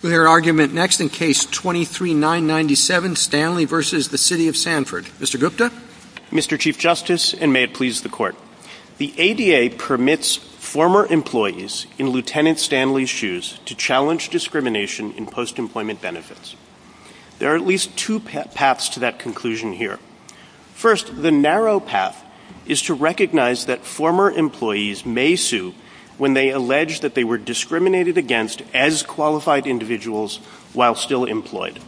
The ADA permits former employees in Lt. Stanley's shoes to challenge discrimination in post-employment benefits. There are at least two paths to that conclusion here. First, the narrow path is to recognize that former employees may sue when they allege that they were discriminated against as qualified individuals while still employed.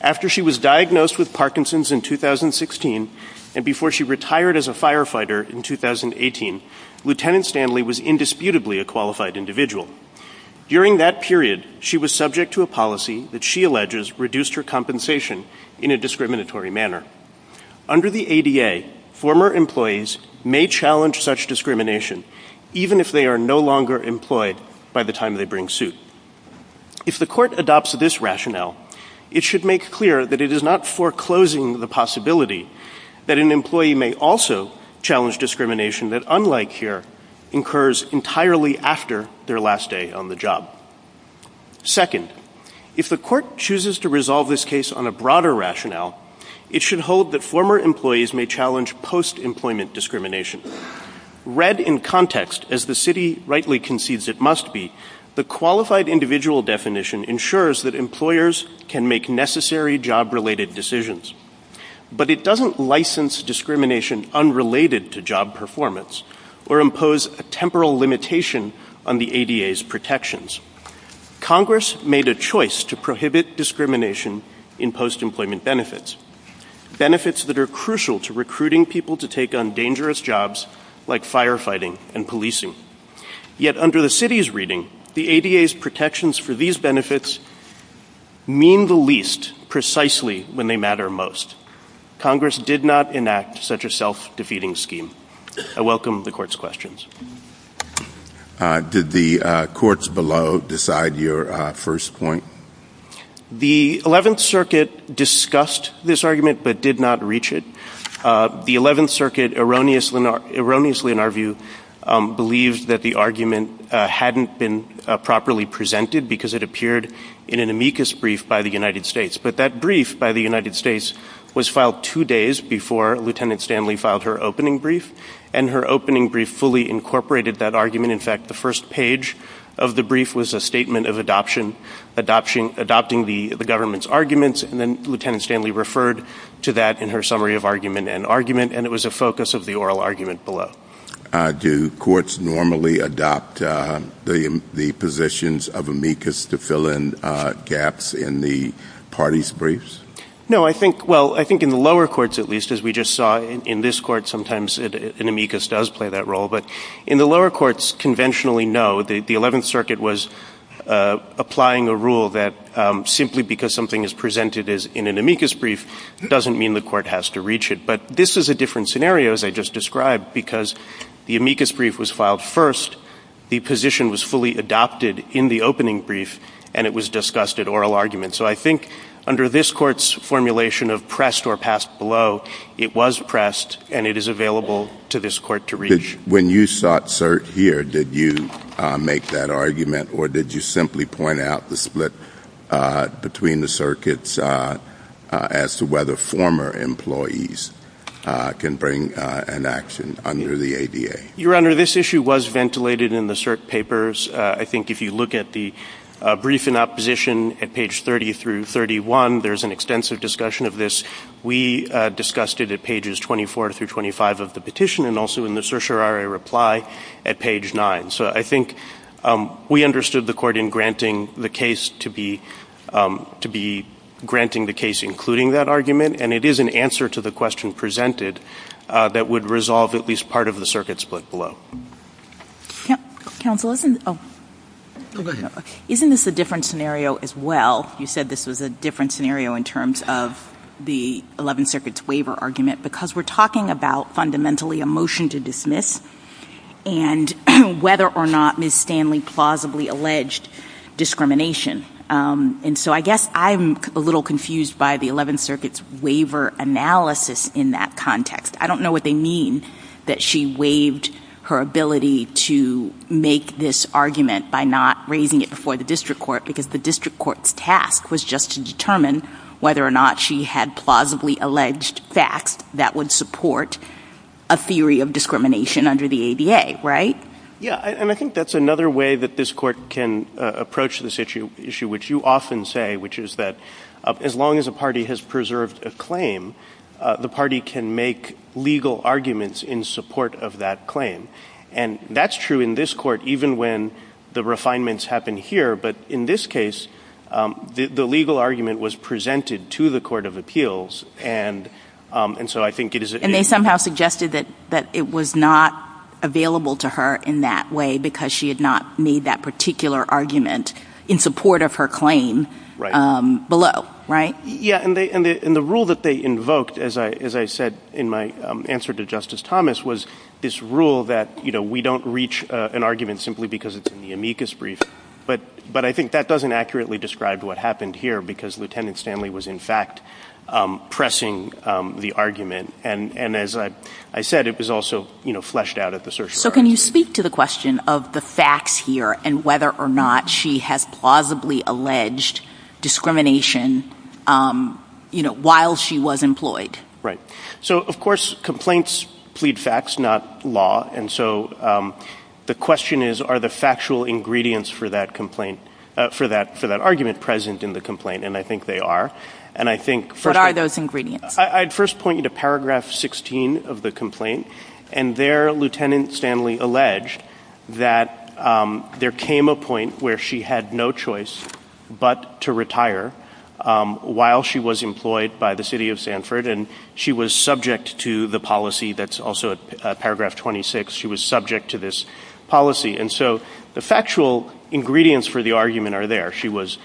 After she was diagnosed with Parkinson's in 2016 and before she retired as a firefighter in 2018, Lt. Stanley was indisputably a qualified individual. During that period, she was subject to a policy that she alleges reduced her compensation in a discriminatory manner. Under the ADA, former employees may challenge such discrimination even if they are no longer employed by the time they bring suit. If the court adopts this rationale, it should make clear that it is not foreclosing the possibility that an employee may also challenge discrimination that, unlike here, occurs entirely after their last day on the job. Second, if the court chooses to resolve this case on a broader rationale, it should hold that former employees may challenge post-employment discrimination. Read in context as the City rightly concedes it must be, the qualified individual definition ensures that employers can make necessary job-related decisions. But it doesn't license discrimination unrelated to job performance or impose a temporal limitation on the ADA's protections. Congress made a choice to prohibit discrimination in post-employment benefits, benefits that are crucial to recruiting people to take on dangerous jobs like firefighting and policing. Yet under the City's reading, the ADA's protections for these benefits mean the least precisely when they matter most. Congress did not enact such a self-defeating scheme. I welcome the Court's questions. Did the courts below decide your first point? The 11th Circuit discussed this argument but did not reach it. The 11th Circuit erroneously, in our view, believed that the argument hadn't been properly presented because it appeared in an amicus brief by the United States. But that brief by the United States was filed two days before Lieutenant Stanley filed her opening brief, and her opening brief fully incorporated that argument. In fact, the first page of the brief was a statement of adopting the government's arguments, and then Lieutenant Stanley referred to that in her summary of argument and argument, and it was a focus of the oral argument below. Do courts normally adopt the positions of amicus to fill in gaps in the parties' briefs? No, I think, well, I think in the lower courts at least, as we just saw, in this court sometimes an amicus does play that role. But in the lower courts, conventionally, no. The 11th Circuit was applying a rule that simply because something is presented in an amicus brief doesn't mean the court has to reach it. But this is a different scenario, as I just described, because the amicus brief was filed first, the position was fully adopted in the opening brief, and it was discussed at oral argument. So I think under this court's formulation of pressed or passed below, it was pressed and it is available to this court to reach. When you sought cert here, did you make that argument, or did you simply point out the split between the circuits as to whether former employees can bring an action under the ADA? Your Honor, this issue was ventilated in the cert papers. I think if you look at the brief in opposition at page 30 through 31, there's an extensive discussion of this. We discussed it at pages 24 through 25 of the petition and also in the certiorari reply at page 9. So I think we understood the court in granting the case including that argument, and it is an answer to the question presented that would resolve at least part of the circuit split below. Counsel, isn't this a different scenario as well? You said this was a different scenario in terms of the Eleventh Circuit's waiver argument because we're talking about fundamentally a motion to dismiss and whether or not Ms. Stanley plausibly alleged discrimination. And so I guess I'm a little confused by the Eleventh Circuit's waiver analysis in that context. I don't know what they mean that she waived her ability to make this argument by not raising it before the district court because the district court's task was just to determine whether or not she had plausibly alleged facts that would support a theory of discrimination under the ADA, right? Yeah, and I think that's another way that this court can approach this issue, which you often say, which is that as long as a party has preserved a claim, the party can make legal arguments in support of that claim. And that's true in this court, even when the refinements happen here. But in this case, the legal argument was presented to the Court of Appeals, and so I think it is... And they somehow suggested that it was not available to her in that way because she had not made that particular argument in support of her claim below, right? Yeah, and the rule that they invoked, as I said in my answer to Justice Thomas, was this rule that we don't reach an argument simply because it's in the amicus brief, but I think that doesn't accurately describe what happened here because Lieutenant Stanley was, in fact, pressing the argument. And as I said, it was also fleshed out at the surcharge. So can you speak to the question of the facts here and whether or not she has plausibly alleged discrimination while she was employed? Right. So, of course, complaints plead facts, not law. And so the question is, are the factual ingredients for that complaint, for that argument present in the complaint? And I think they are. And I think... What are those ingredients? I'd first point you to paragraph 16 of the complaint. And there, Lieutenant Stanley alleged that there came a point where she had no choice but to retire while she was employed by the city of Sanford. And she was subject to the policy that's also at paragraph 26. She was subject to this policy. And so the factual ingredients for the argument are there. She was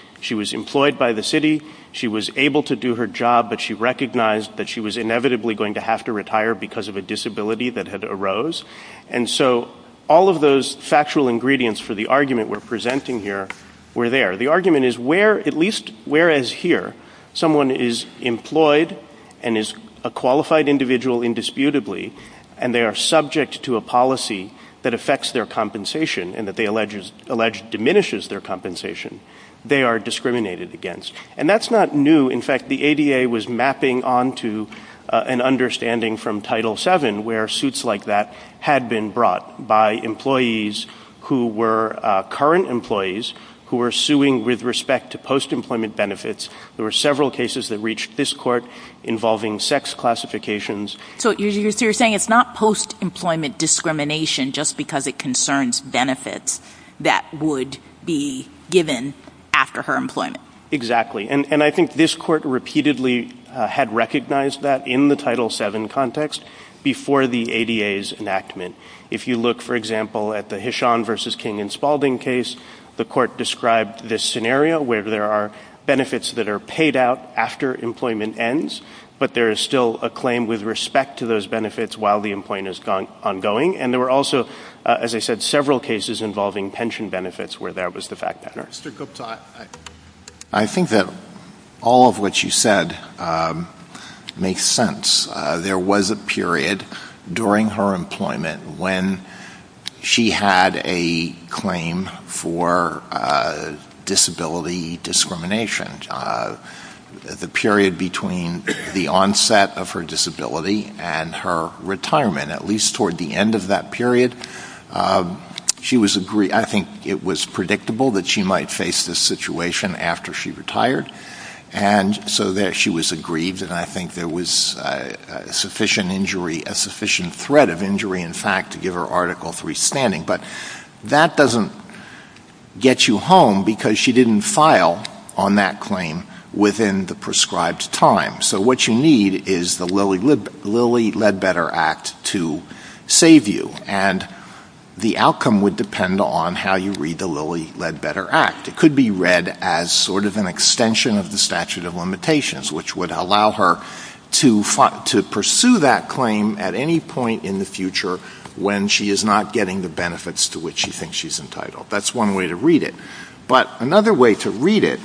employed by the city. She was able to do her job, but she recognized that she was inevitably going to have to retire because of a disability that had arose. And so all of those factual ingredients for the argument we're presenting here were there. The argument is where... At least whereas here, someone is employed and is a qualified individual indisputably and they are subject to a policy that affects their compensation and that they allege diminishes their compensation, they are discriminated against. And that's not new. In fact, the ADA was mapping onto an understanding from Title VII where suits like that had been brought by employees who were current employees who were suing with respect to post-employment benefits. There were several cases that reached this court involving sex classifications. So you're saying it's not post-employment discrimination just because it concerns benefits that would be given after her employment? Exactly. And I think this court repeatedly had recognized that in the Title VII context before the ADA's enactment. If you look, for example, at the Hishon versus King and Spalding case, the court described this scenario where there are benefits that are paid out after employment ends, but there is still a claim with respect to those benefits while the employment is ongoing. And there were also, as I said, several cases involving pension benefits where that was the fact pattern. Mr. Cooks, I think that all of what you said makes sense. There was a period during her employment when she had a claim for disability discrimination. The period between the onset of her disability and her retirement, at least toward the end of that period, I think it was predictable that she might face this situation after she retired. And so there she was aggrieved, and I think there was a sufficient injury, a sufficient threat of injury, in fact, to give her Article III standing. But that doesn't get you home because she didn't file on that claim within the prescribed time. So what you need is the Lilly Ledbetter Act to save you. And the outcome would depend on how you read the Lilly Ledbetter Act. It could be read as sort of an extension of the statute of limitations, which would allow her to pursue that claim at any point in the future when she is not getting the benefits to which she thinks she's entitled. That's one way to read it. But another way to read it,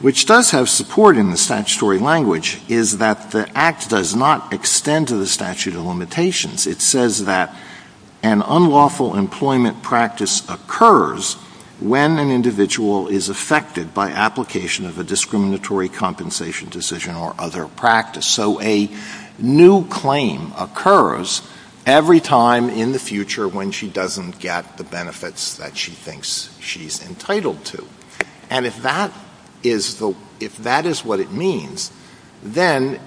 which does have support in the statutory language, is that the Act does not extend to the statute of limitations. It says that an unlawful employment practice occurs when an individual is affected by application of a discriminatory compensation decision or other practice. So a new claim occurs every time in the future when she doesn't get the benefits that she thinks she's entitled to. And if that is what it means, then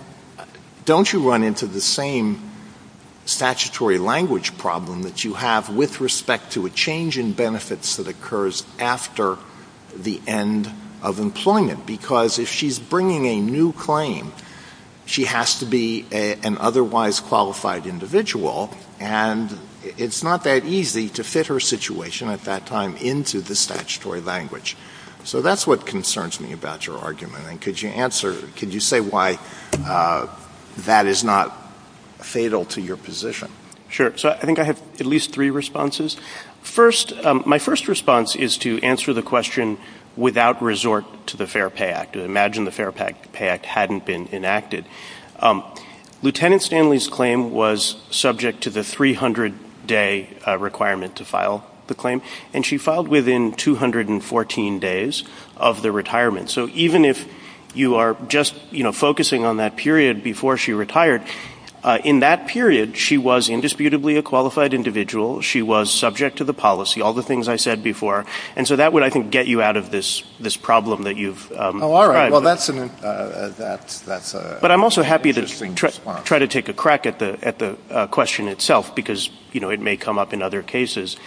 don't you run into the same statutory language problem that you have with respect to a change in benefits that occurs after the end of employment? Because if she's bringing a new claim, she has to be an otherwise qualified individual, and it's not that easy to fit her situation at that time into the statutory language. So that's what concerns me about your argument. And could you answer, could you say why that is not fatal to your position? Sure. So I think I have at least three responses. First, my first response is to answer the question without resort to the Fair Pay Act. Imagine the Fair Pay Act hadn't been enacted. Lieutenant Stanley's claim was subject to the 300-day requirement to file the claim, and she filed within 214 days of the retirement. So even if you are just focusing on that period before she retired, in that period, she was indisputably a qualified individual. She was subject to the policy, all the things I said before. And so that would, I think, get you out of this problem that you've come across. Well, that's an interesting response. But I'm also happy to try to take a crack at the question itself, because it may come up in other cases.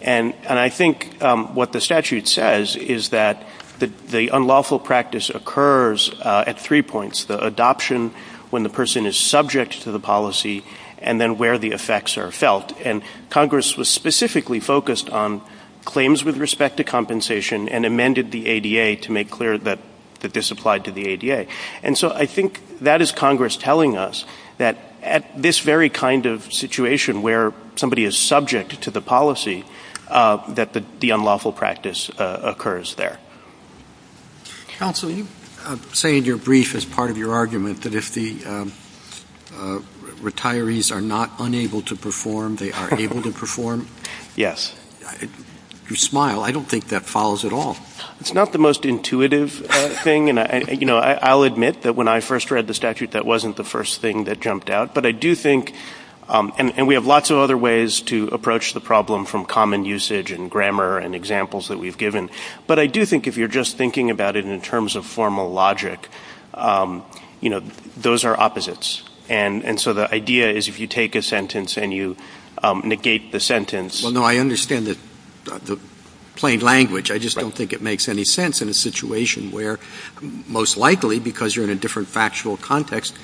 And I think what the statute says is that the unlawful practice occurs at three points, the adoption when the person is subject to the policy, and then where the effects are felt. And Congress was specifically focused on claims with respect to compensation and amended the ADA to make clear that this applied to the ADA. And so I think that is Congress telling us that at this very kind of situation where somebody is subject to the policy, that the unlawful practice occurs there. Counsel, you say in your brief as part of your argument that if the retirees are not unable to perform, they are able to perform. Yes. You smile. I don't think that follows at all. It's not the most intuitive thing. And I'll admit that when I first read the statute, that wasn't the first thing that jumped out. But I do think, and we have lots of other ways to approach the problem from common usage and grammar and examples that we've given. But I do think if you're just thinking about it in terms of formal logic, those are opposites. And so the idea is if you take a sentence and you negate the sentence. Well, no, I understand the plain language. I just don't think it makes any sense in a situation where most likely because you're in a different factual context,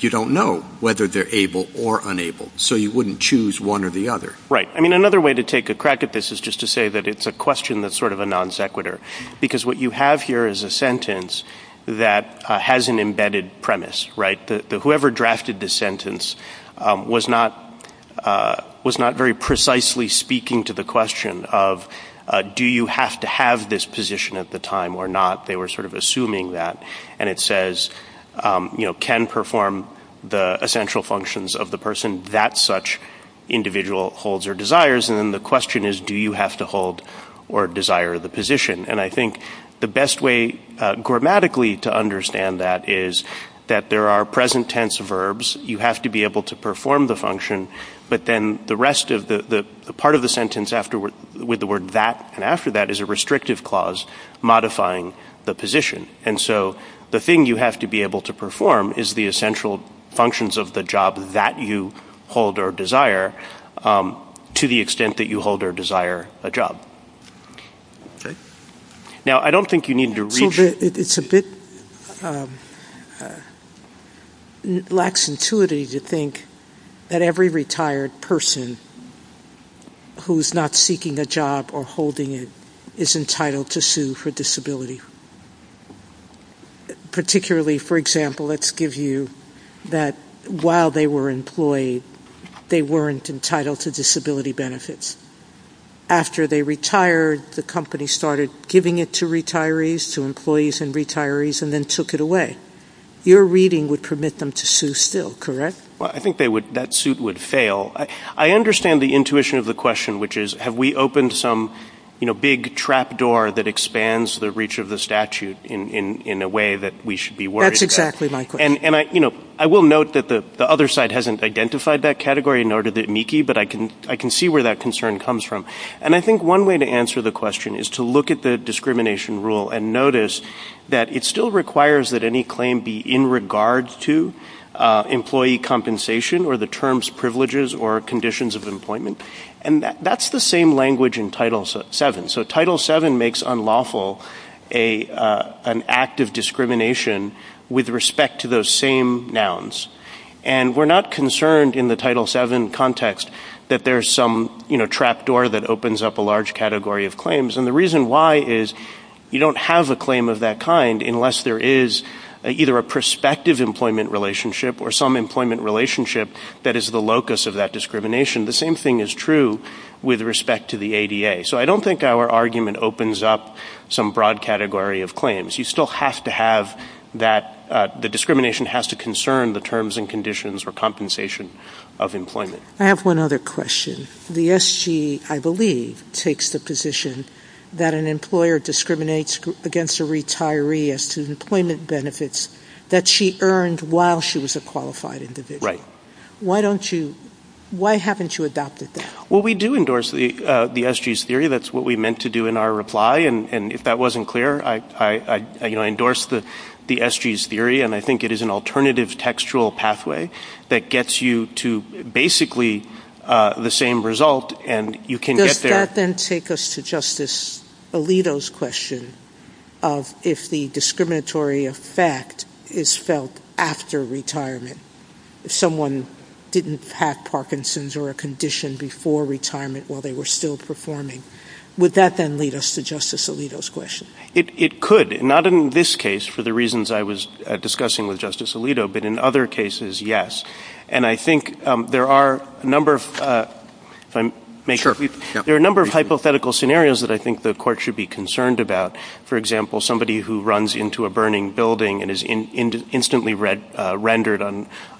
you don't know whether they're able or unable. So you wouldn't choose one or the other. Right. I mean, another way to take a crack at this is just to say that it's a question that's sort of a non sequitur. Because what you have here is a sentence that has an embedded premise, right? Whoever drafted this sentence was not very precisely speaking to the question of do you have to have this position at the time or not. They were sort of assuming that. And it says, you know, can perform the essential functions of the person that such individual holds or desires. And then the question is, do you have to hold or desire the position? And I think the best way grammatically to understand that is that there are present tense verbs. You have to be able to perform the function. But then the rest of the part of the sentence after with the word that and after that is a restrictive clause modifying the position. And so the thing you have to be able to perform is the essential functions of the job that you hold or desire to the extent that you hold or desire a job. OK. Now, I don't think you need to read. It's a bit lax intuitive to think that every retired person who is not seeking a job or holding it is entitled to sue for disability. Particularly, for example, let's give you that while they were employed, they weren't entitled to disability benefits. After they retired, the company started giving it to retirees, to employees and retirees, and then took it away. Your reading would permit them to sue still, correct? Well, I think that suit would fail. I understand the intuition of the question, which is, have we opened some big trap door that expands the reach of the statute in a way that we should be worried about? That's exactly my question. And I will note that the other side hasn't identified that category in order to meet the key, but I can see where that concern comes from. And I think one way to answer the question is to look at the discrimination rule and notice that it still requires that any claim be in regards to employee compensation or the terms, privileges, or conditions of employment. And that's the same language in Title VII. So Title VII makes unlawful an act of discrimination with respect to those same nouns. And we're not concerned in the Title VII context that there's some, you know, trap door that opens up a large category of claims. And the reason why is you don't have a claim of that kind unless there is either a prospective employment relationship or some employment relationship that is the locus of that discrimination. The same thing is true with respect to the ADA. So I don't think our argument opens up some broad category of claims. You still have to have that the discrimination has to concern the terms and conditions or compensation of employment. I have one other question. The SG, I believe, takes the position that an employer discriminates against a retiree as to employment benefits that she earned while she was a qualified individual. Why haven't you adopted that? Well, we do endorse the SG's theory. That's what we meant to do in our reply. And if that wasn't clear, I, you know, endorse the SG's theory. And I think it is an alternative textual pathway that gets you to basically the same result and you can get there. Does that then take us to Justice Alito's question of if the discriminatory effect is felt after retirement, if someone didn't have Parkinson's or a condition before retirement while they were still performing? Would that then lead us to Justice Alito's question? It could. Not in this case for the reasons I was discussing with Justice Alito, but in other cases, yes. And I think there are a number of hypothetical scenarios that I think the court should be concerned about. For example, somebody who runs into a burning building and is instantly rendered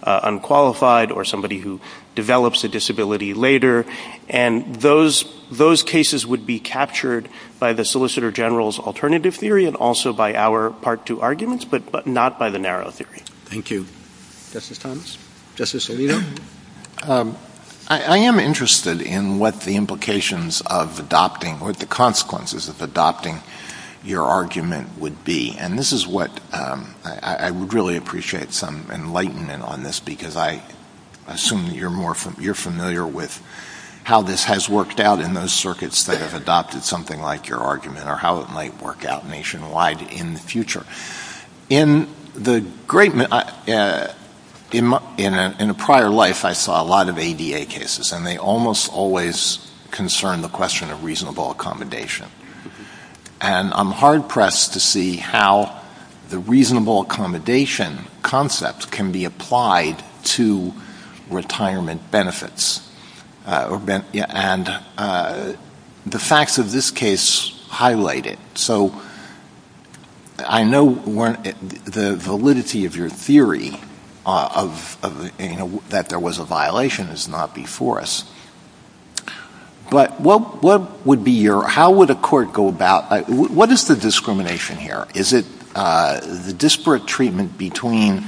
unqualified or somebody who develops a disability later. And those cases would be captured by the Solicitor General's alternative theory and also by our Part 2 arguments, but not by the narrow theory. Thank you. Justice Thomas? Justice Alito? I am interested in what the implications of adopting, what the consequences of adopting your argument would be. And this is what I would really appreciate some enlightenment on this because I assume you're familiar with how this has worked out in those circuits that have adopted something like your argument or how it might work out nationwide in the future. In a prior life, I saw a lot of ADA cases and they almost always concern the question of reasonable accommodation. And I'm hard-pressed to see how the reasonable accommodation concept can be applied to retirement benefits. And the facts of this case highlight it. So I know the validity of your theory that there was a violation is not before us. But what would be your, how would a court go about, what is the discrimination here? Is it the disparate treatment between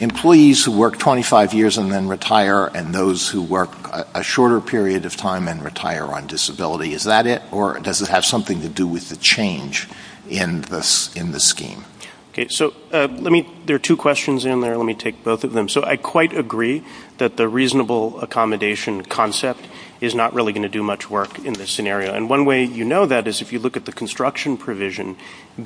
employees who work 25 years and then retire and those who work a shorter period of time and retire on disability? Is that it? Or does it have something to do with the change in the scheme? So let me, there are two questions in there, let me take both of them. So I quite agree that the reasonable accommodation concept is not really going to do much work in this scenario. And one way you know that is if you look at the construction provision,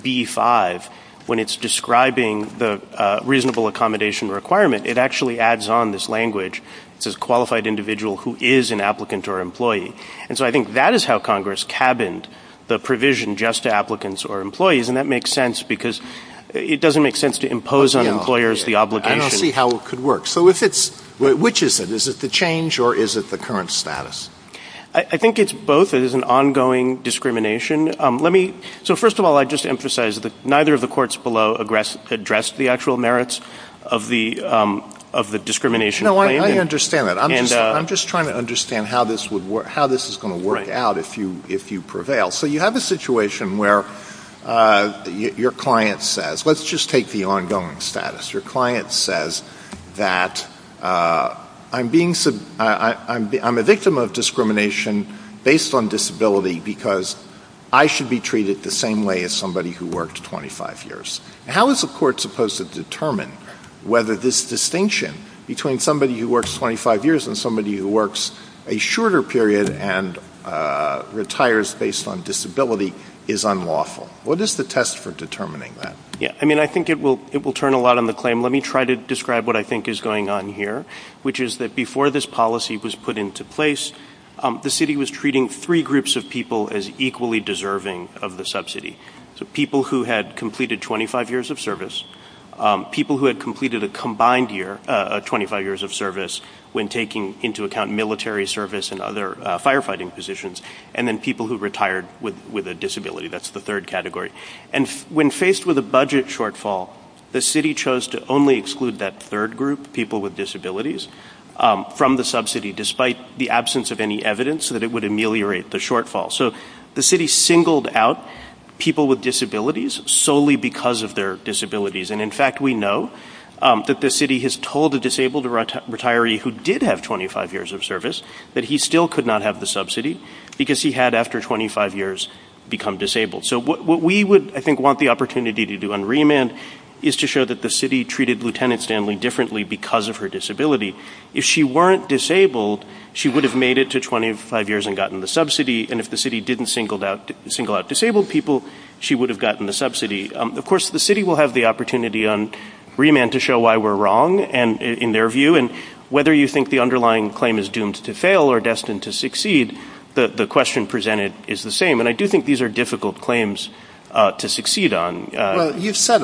B-5, when it's describing the reasonable accommodation requirement, it actually adds on this language, says qualified individual who is an applicant or employee. And so I think that is how Congress cabined the provision just to applicants or employees. And that makes sense because it doesn't make sense to impose on employers the obligation. Let's see how it could work. So if it's, which is it? Is it the change or is it the current status? I think it's both. It is an ongoing discrimination. Let me, so first of all, I'd just emphasize that neither of the courts below address the actual merits of the discrimination claims. No, I understand that. I'm just trying to understand how this is going to work out if you prevail. So you have a situation where your client says, let's just take the ongoing status. Your client says that I'm being, I'm a victim of discrimination based on disability because I should be treated the same way as somebody who worked 25 years. How is the court supposed to determine whether this distinction between somebody who works 25 years and somebody who works a shorter period and retires based on disability is unlawful? What is the test for determining that? Yeah, I mean, I think it will, it will turn a lot on the claim. Let me try to describe what I think is going on here, which is that before this policy was put into place, the city was treating three groups of people as equally deserving of the subsidy. So people who had completed 25 years of service, people who had completed a combined year, 25 years of service when taking into account military service and other firefighting positions, and then people who retired with a disability. That's the third category. And when faced with a budget shortfall, the city chose to only exclude that third group, people with disabilities, from the subsidy, despite the absence of any evidence that it would ameliorate the shortfall. So the city singled out people with disabilities solely because of their disabilities. And in fact, we know that the city has told a disabled retiree who did have 25 years of service that he still could not have the subsidy because he had, after 25 years, become disabled. So what we would, I think, want the opportunity to do on remand is to show that the city treated Lieutenant Stanley differently because of her disability. If she weren't disabled, she would have made it to 25 years and gotten the subsidy. And if the city didn't single out disabled people, she would have gotten the subsidy. Of course, the city will have the opportunity on remand to show why we're wrong in their view and whether you think the underlying claim is doomed to fail or destined to succeed, but the question presented is the same. And I do think these are difficult claims to succeed on. You've said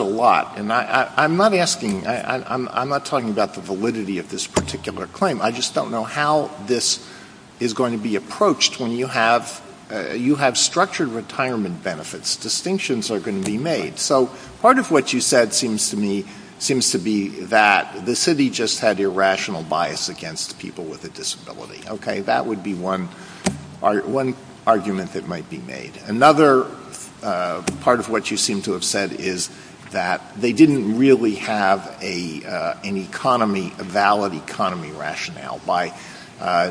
a lot, and I'm not asking, I'm not talking about the validity of this particular claim. I just don't know how this is going to be approached when you have structured retirement benefits. Distinctions are going to be made. So part of what you said seems to me, seems to be that the city just had irrational bias against people with a disability. That would be one argument that might be made. Another part of what you seem to have said is that they didn't really have an economy, a valid economy rationale by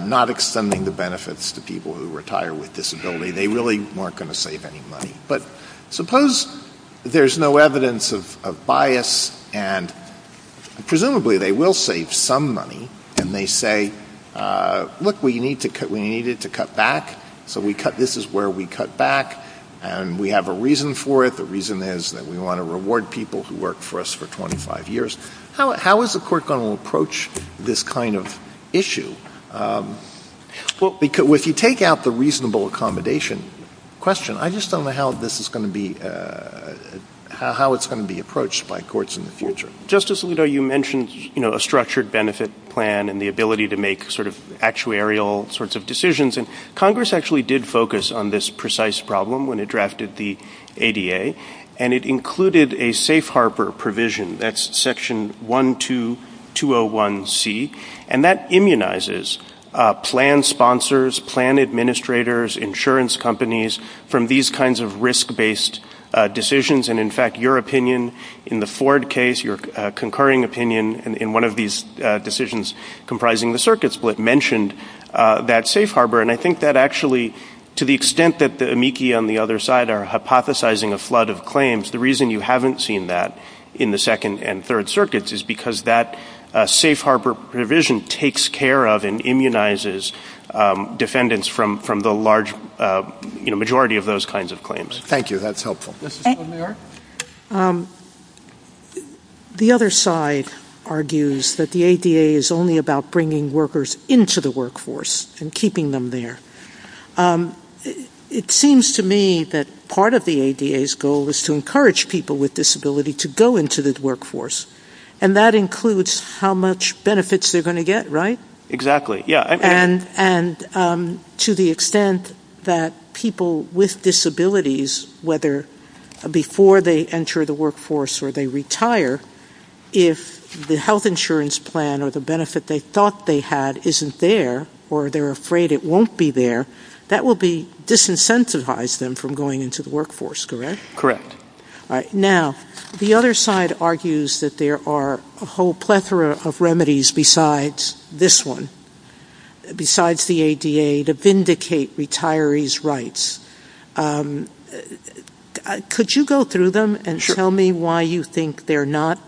not extending the benefits to people who retire with disability. They really weren't going to save any money. But suppose there's no evidence of bias and presumably they will save some money and they say, look, we need to cut, we needed to cut back. So we cut. This is where we cut back and we have a reason for it. The reason is that we want to reward people who worked for us for twenty five years. How is the court going to approach this kind of issue? Well, because if you take out the reasonable accommodation question, I just don't know how this is going to be, how it's going to be approached by courts in the future. Justice Alito, you mentioned a structured benefit plan and the ability to make sort of actuarial sorts of decisions. And Congress actually did focus on this precise problem when it drafted the ADA and it included a safe harbor provision. That's section one, two, two oh one C. And that immunizes plan sponsors, plan administrators, insurance companies from these kinds of risk based decisions. And in fact, your opinion in the Ford case, your concurring opinion in one of these decisions comprising the circuit split mentioned that safe harbor. And I think that actually to the extent that the amici on the other side are hypothesizing a flood of claims, the reason you haven't seen that in the second and third circuits is because that safe harbor provision takes care of and immunizes defendants from from the large majority of those kinds of claims. Thank you. That's helpful. The other side argues that the ADA is only about bringing workers into the workforce and keeping them there. It seems to me that part of the ADA's goal is to encourage people with disability to go into the workforce. And that includes how much benefits they're going to get, right? Exactly. And to the extent that people with disabilities, whether before they enter the workforce or they retire, if the health insurance plan or the benefit they thought they had isn't there or they're afraid it won't be there, that will be disincentivized them from going into the workforce. Correct? Correct. Now, the other side argues that there are a whole plethora of remedies besides this one, besides the ADA to vindicate retirees' rights. Could you go through them and tell me why you think they're not?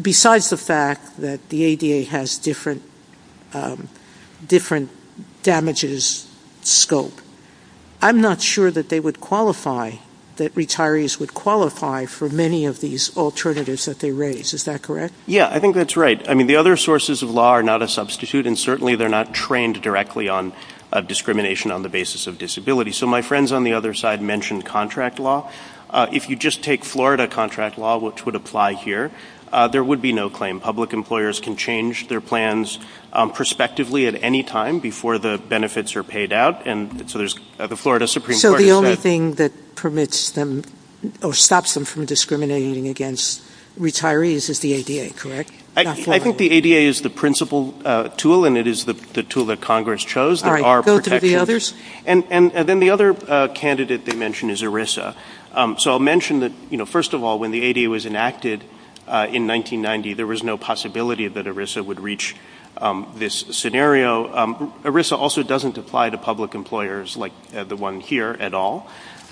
Besides the fact that the ADA has different different damages scope, I'm not sure that they would qualify, that retirees would qualify for many of these alternatives that they raise. Is that correct? Yeah, I think that's right. I mean, the other sources of law are not a substitute, and certainly they're not trained directly on discrimination on the basis of disability. So my friends on the other side mentioned contract law. If you just take Florida contract law, which would apply here, there would be no claim. Public employers can change their plans prospectively at any time before the benefits are paid out. And so there's the Florida Supreme Court. So the only thing that permits them or stops them from discriminating against retirees is the ADA, correct? I think the ADA is the principal tool and it is the tool that Congress chose. All right, go to the others. And then the other candidate they mentioned is ERISA. So I'll mention that, you know, first of all, when the ADA was enacted in 1990, there was no possibility that ERISA would reach this scenario. ERISA also doesn't apply to public employers like the one here at all.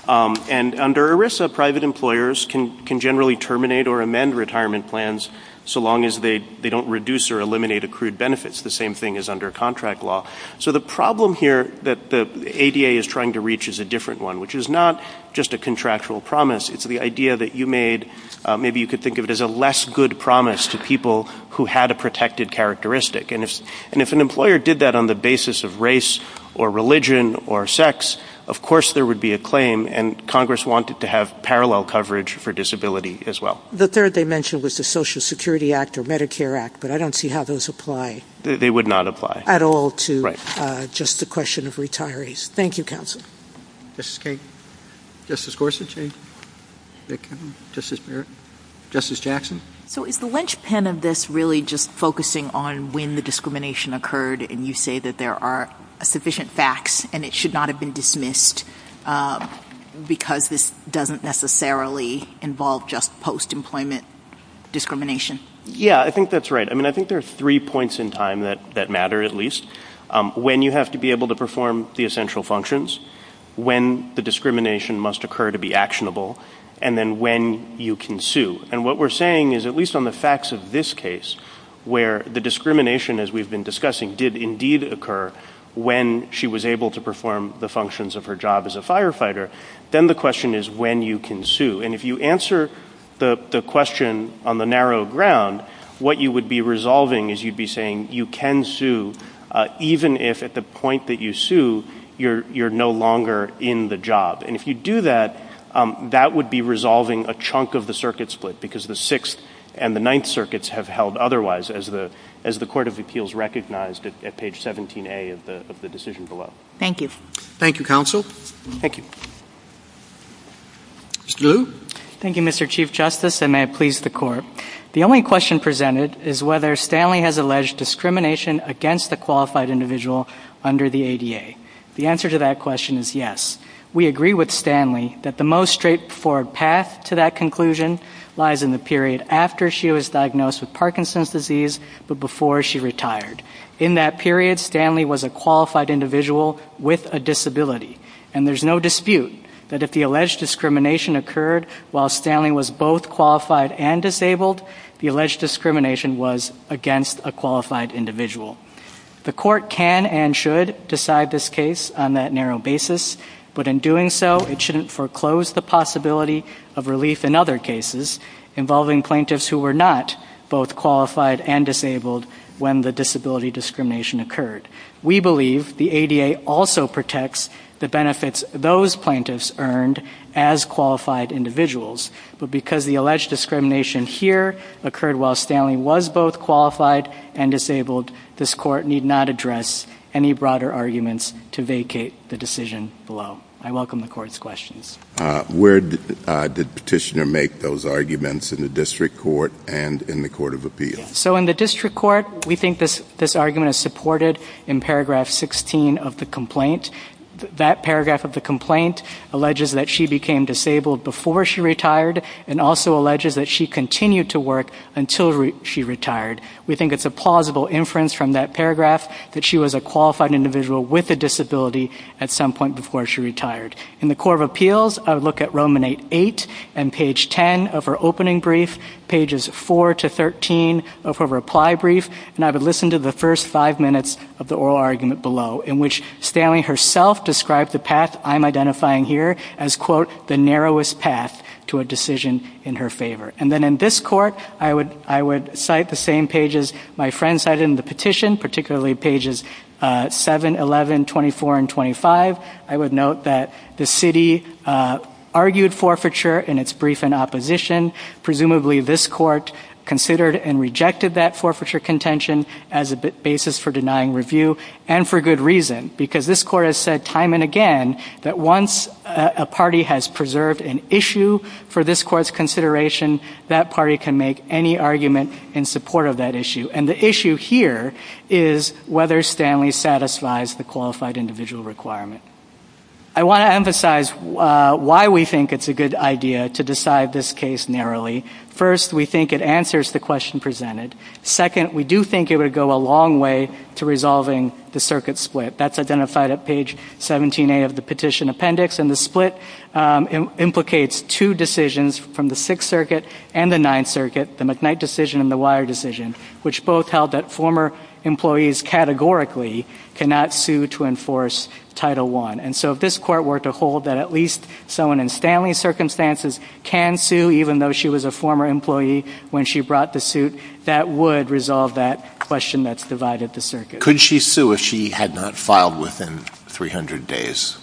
And under ERISA, private employers can generally terminate or amend retirement plans so the thing is they don't reduce or eliminate accrued benefits. The same thing is under contract law. So the problem here that the ADA is trying to reach is a different one, which is not just a contractual promise. It's the idea that you made. Maybe you could think of it as a less good promise to people who had a protected characteristic. And if an employer did that on the basis of race or religion or sex, of course, there would be a claim. And Congress wanted to have parallel coverage for disability as well. The third they mentioned was the Social Security Act or Medicare Act, but I don't see how those apply. They would not apply at all to just the question of retirees. Thank you, counsel. Justice Gorsuch, Justice Jackson. So is the linchpin of this really just focusing on when the discrimination occurred and you say that there are sufficient facts and it should not have been dismissed because this doesn't necessarily involve just post-employment discrimination? Yeah, I think that's right. I mean, I think there are three points in time that that matter, at least when you have to be able to perform the essential functions, when the discrimination must occur to be actionable, and then when you can sue. And what we're saying is, at least on the facts of this case, where the discrimination, as we've been discussing, did indeed occur when she was able to perform the functions of her job as a firefighter, then the question is when you can sue. And if you answer the question on the narrow ground, what you would be resolving is you'd be saying you can sue even if at the point that you sue, you're no longer in the job. And if you do that, that would be resolving a chunk of the circuit split because the Sixth and the Ninth Circuits have held otherwise, as the Court of Appeals recognized at page 17A of the decision below. Thank you. Thank you, Counsel. Thank you. Mr. Liu? Thank you, Mr. Chief Justice, and may it please the Court. The only question presented is whether Stanley has alleged discrimination against the qualified individual under the ADA. The answer to that question is yes. We agree with Stanley that the most straightforward path to that conclusion lies in the period after she was diagnosed with Parkinson's disease, but before she retired. In that period, Stanley was a qualified individual with a disability, and there's no dispute that if the alleged discrimination occurred while Stanley was both qualified and disabled, the alleged discrimination was against a qualified individual. The court can and should decide this case on that narrow basis, but in doing so, it shouldn't foreclose the possibility of relief in other cases involving plaintiffs who were not both qualified and disabled when the disability discrimination occurred. We believe the ADA also protects the benefits those plaintiffs earned as qualified individuals, but because the alleged discrimination here occurred while Stanley was both qualified and disabled, this court need not address any broader arguments to vacate the decision below. I welcome the court's questions. Where did the petitioner make those arguments in the district court and in the court of appeal? So in the district court, we think this this argument is supported in paragraph 16 of the complaint. That paragraph of the complaint alleges that she became disabled before she retired and also alleges that she continued to work until she retired. We think it's a plausible inference from that paragraph that she was a qualified individual with a disability at some point before she retired. In the court of appeals, I would look at Roman 8 and page 10 of her opening brief, pages 4 to 13 of her reply brief. And I would listen to the first five minutes of the oral argument below in which Stanley herself described the path I'm identifying here as, quote, the narrowest path to a decision in her favor. And then in this court, I would I would cite the same pages my friend said in the petition, particularly pages 7, 11, 24 and 25. I would note that the city argued forfeiture in its brief in opposition. Presumably, this court considered and rejected that forfeiture contention as a basis for denying review and for good reason, because this court has said time and again that once a party has preserved an issue for this court's consideration, that party can make any argument in support of that issue. And the issue here is whether Stanley satisfies the qualified individual requirement. I want to emphasize why we think it's a good idea to decide this case narrowly. First, we think it answers the question presented. Second, we do think it would go a long way to resolving the circuit split that's identified at page 17 of the petition appendix. And the split implicates two decisions from the Sixth Circuit and the Ninth Circuit, the McKnight decision and the Wire decision, which both held that former employees categorically cannot sue to enforce Title One. And so if this court were to hold that at least someone in Stanley circumstances can sue, even though she was a former employee when she brought the suit, that would resolve that question that's divided the circuit. Could she sue if she had not filed within 300 days?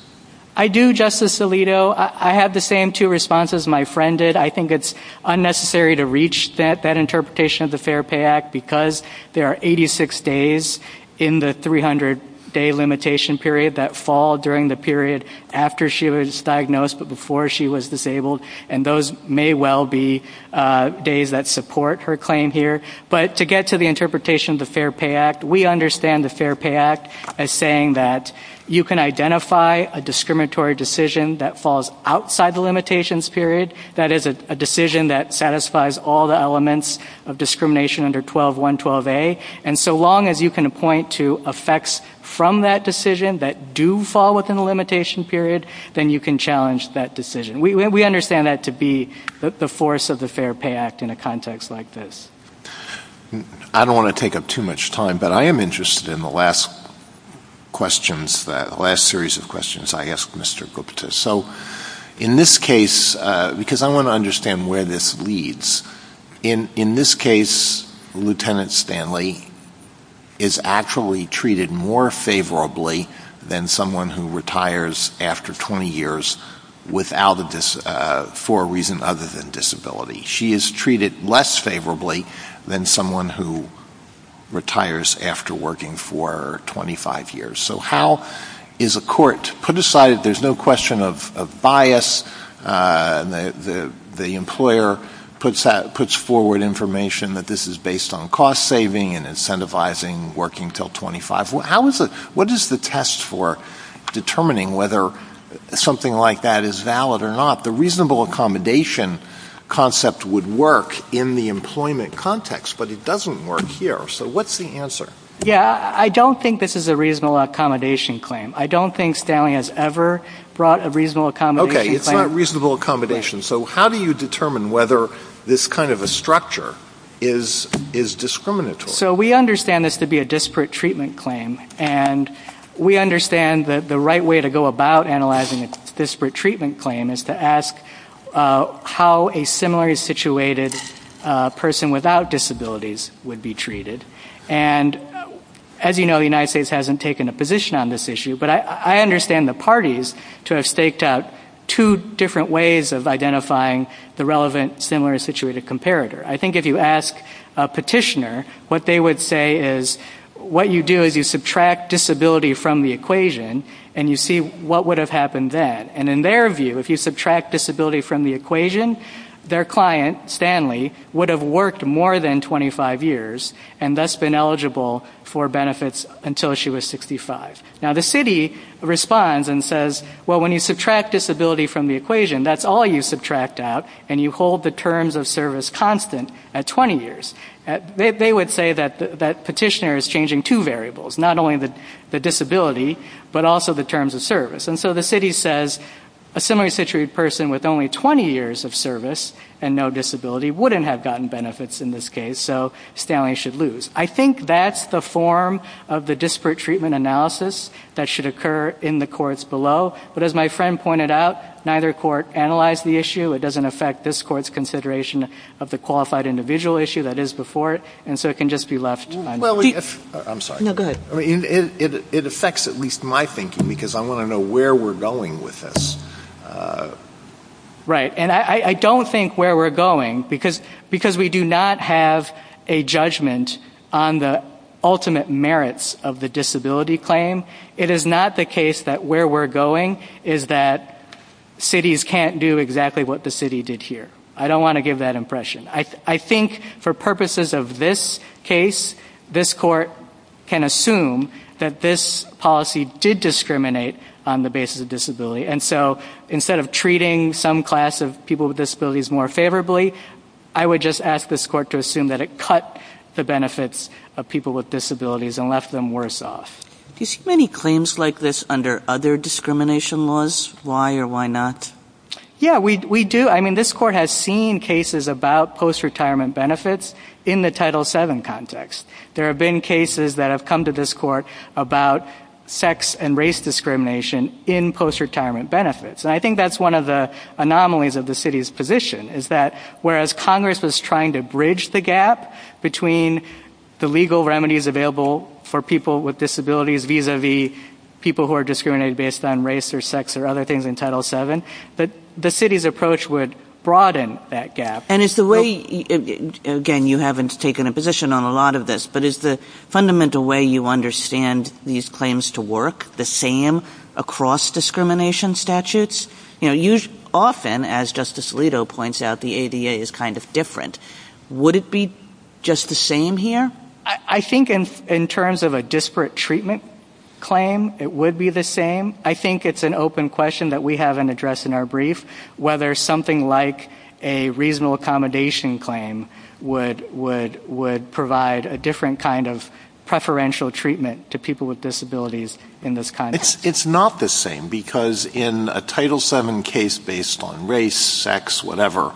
I do, Justice Alito. I have the same two responses my friend did. I think it's unnecessary to reach that interpretation of the Fair Pay Act because there are 86 days in the 300 day limitation period that fall during the period after she was diagnosed, but before she was disabled. And those may well be days that support her claim here. But to get to the interpretation of the Fair Pay Act, we understand the Fair Pay Act as saying that you can identify a discriminatory decision that falls outside the limitations period. That is a decision that satisfies all the elements of discrimination under 12.1.12a. And so long as you can point to effects from that decision that do fall within the limitation period, then you can challenge that decision. We understand that to be the force of the Fair Pay Act in a context like this. I don't want to take up too much time, but I am interested in the last questions, the last series of questions I asked Mr. Gupta. So in this case, because I want to understand where this leads, in this case, Lieutenant Stanley is actually treated more favorably than someone who retires after 20 years for a reason other than disability. She is treated less favorably than someone who retires after working for 25 years. So how is a court put aside, there is no question of bias, the employer puts forward information that this is based on cost saving and incentivizing working until 25. What is the test for determining whether something like that is valid or not? The reasonable accommodation concept would work in the employment context, but it doesn't work here. So what's the answer? Yeah, I don't think this is a reasonable accommodation claim. I don't think Stanley has ever brought a reasonable accommodation claim. Okay, it's not a reasonable accommodation. So how do you determine whether this kind of a structure is discriminatory? So we understand this to be a disparate treatment claim and we understand that the right way to go about analyzing a disparate treatment claim is to ask how a similarly situated person without disabilities would be treated. And as you know, the United States hasn't taken a position on this issue, but I understand the parties to have staked out two different ways of identifying the relevant similar situated comparator. I think if you ask a petitioner, what they would say is what you do is you subtract disability from the equation and you see what would have happened then. And in their view, if you subtract disability from the equation, their client, Stanley, would have worked more than 25 years and thus been eligible for benefits until she was 65. Now the city responds and says, well, when you subtract disability from the equation, that's all you subtract out and you hold the terms of service constant at 20 years. They would say that that petitioner is changing two variables, not only the disability, but also the terms of service. And so the city says a similarly situated person with only 20 years of service and no disability wouldn't have gotten benefits in this case. So Stanley should lose. I think that's the form of the disparate treatment analysis that should occur in the courts below. But as my friend pointed out, neither court analyzed the issue. It doesn't affect this court's consideration of the qualified individual issue that is before it. And so it can just be left. Well, I'm sorry. No, go ahead. It affects at least my thinking because I want to know where we're going with this. Right. And I don't think where we're going, because, because we do not have a judgment on the ultimate merits of the disability claim. It is not the case that where we're going is that cities can't do exactly what the city did here. I don't want to give that impression. I think for purposes of this case, this court can assume that this policy did discriminate on the basis of disability. And so instead of treating some class of people with disabilities more favorably, I would just ask this court to assume that it cut the benefits of people with disabilities and left them worse off. Do you see many claims like this under other discrimination laws? Why or why not? Yeah, we do. I mean, this court has seen cases about post-retirement benefits in the Title VII context. There have been cases that have come to this court about sex and race discrimination in post-retirement benefits. And I think that's one of the anomalies of the city's position, is that whereas Congress is trying to bridge the gap between the legal remedies available for people with disabilities vis-a-vis people who are discriminated based on race or sex or other things in Title VII, the city's approach would broaden that gap. And is the way, again, you haven't taken a position on a lot of this, but is the fundamental way you understand these claims to work the same across discrimination statutes? You know, often, as Justice Alito points out, the ADA is kind of different. Would it be just the same here? I think in terms of a disparate treatment claim, it would be the same. I think it's an open question that we haven't addressed in our brief, whether something like a reasonable accommodation claim would provide a different kind of preferential treatment to people with disabilities in this context. It's not the same, because in a Title VII case based on race, sex, whatever,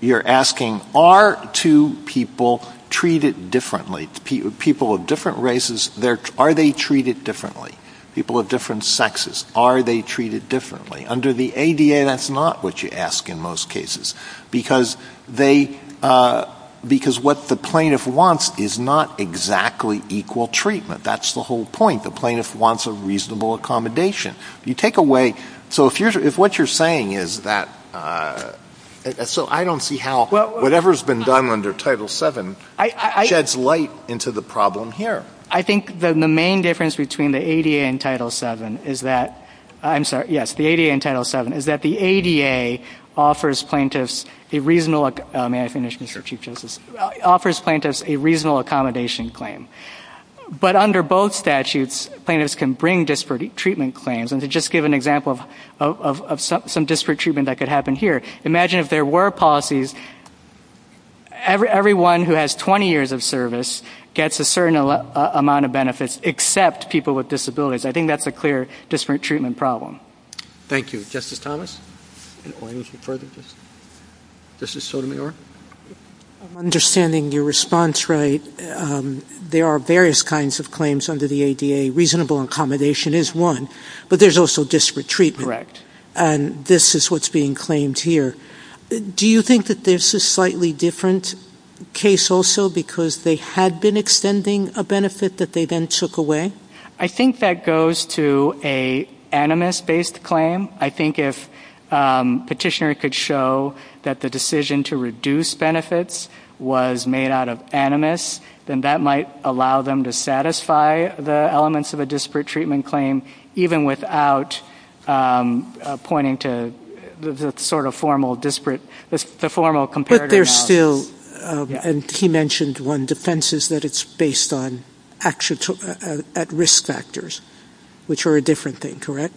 you're asking, are two people treated differently? People of different races, are they treated differently? People of different sexes, are they treated differently? Under the ADA, that's not what you ask in most cases, because what the plaintiff wants is not exactly equal treatment. That's the whole point. The plaintiff wants a reasonable accommodation. You take away, so if what you're saying is that, so I don't see how whatever has been done under Title VII sheds light into the problem here. I think the main difference between the ADA and Title VII is that, I'm sorry, yes, the ADA and Title VII, is that the ADA offers plaintiffs a reasonable, may I say, a reasonable accommodation claim, but under both statutes, plaintiffs can bring disparate treatment claims, and to just give an example of some disparate treatment that could happen here, imagine if there were policies, everyone who has 20 years of service gets a certain amount of benefits, except people with disabilities. I think that's a clear disparate treatment problem. Thank you. Justice Thomas, in order to further this. Justice Sotomayor. I'm understanding your response right. There are various kinds of claims under the ADA. Reasonable accommodation is one, but there's also disparate treatment. And this is what's being claimed here. Do you think that this is slightly different case also because they had been extending a benefit that they then took away? I think that goes to an animus-based claim. I think if petitioner could show that the decision to reduce benefits was made out of animus, then that might allow them to satisfy the elements of a disparate treatment claim, even without pointing to the sort of formal disparate, the formal comparative. But there's still, and he mentioned one defense is that it's based on at risk factors, which are a different thing, correct?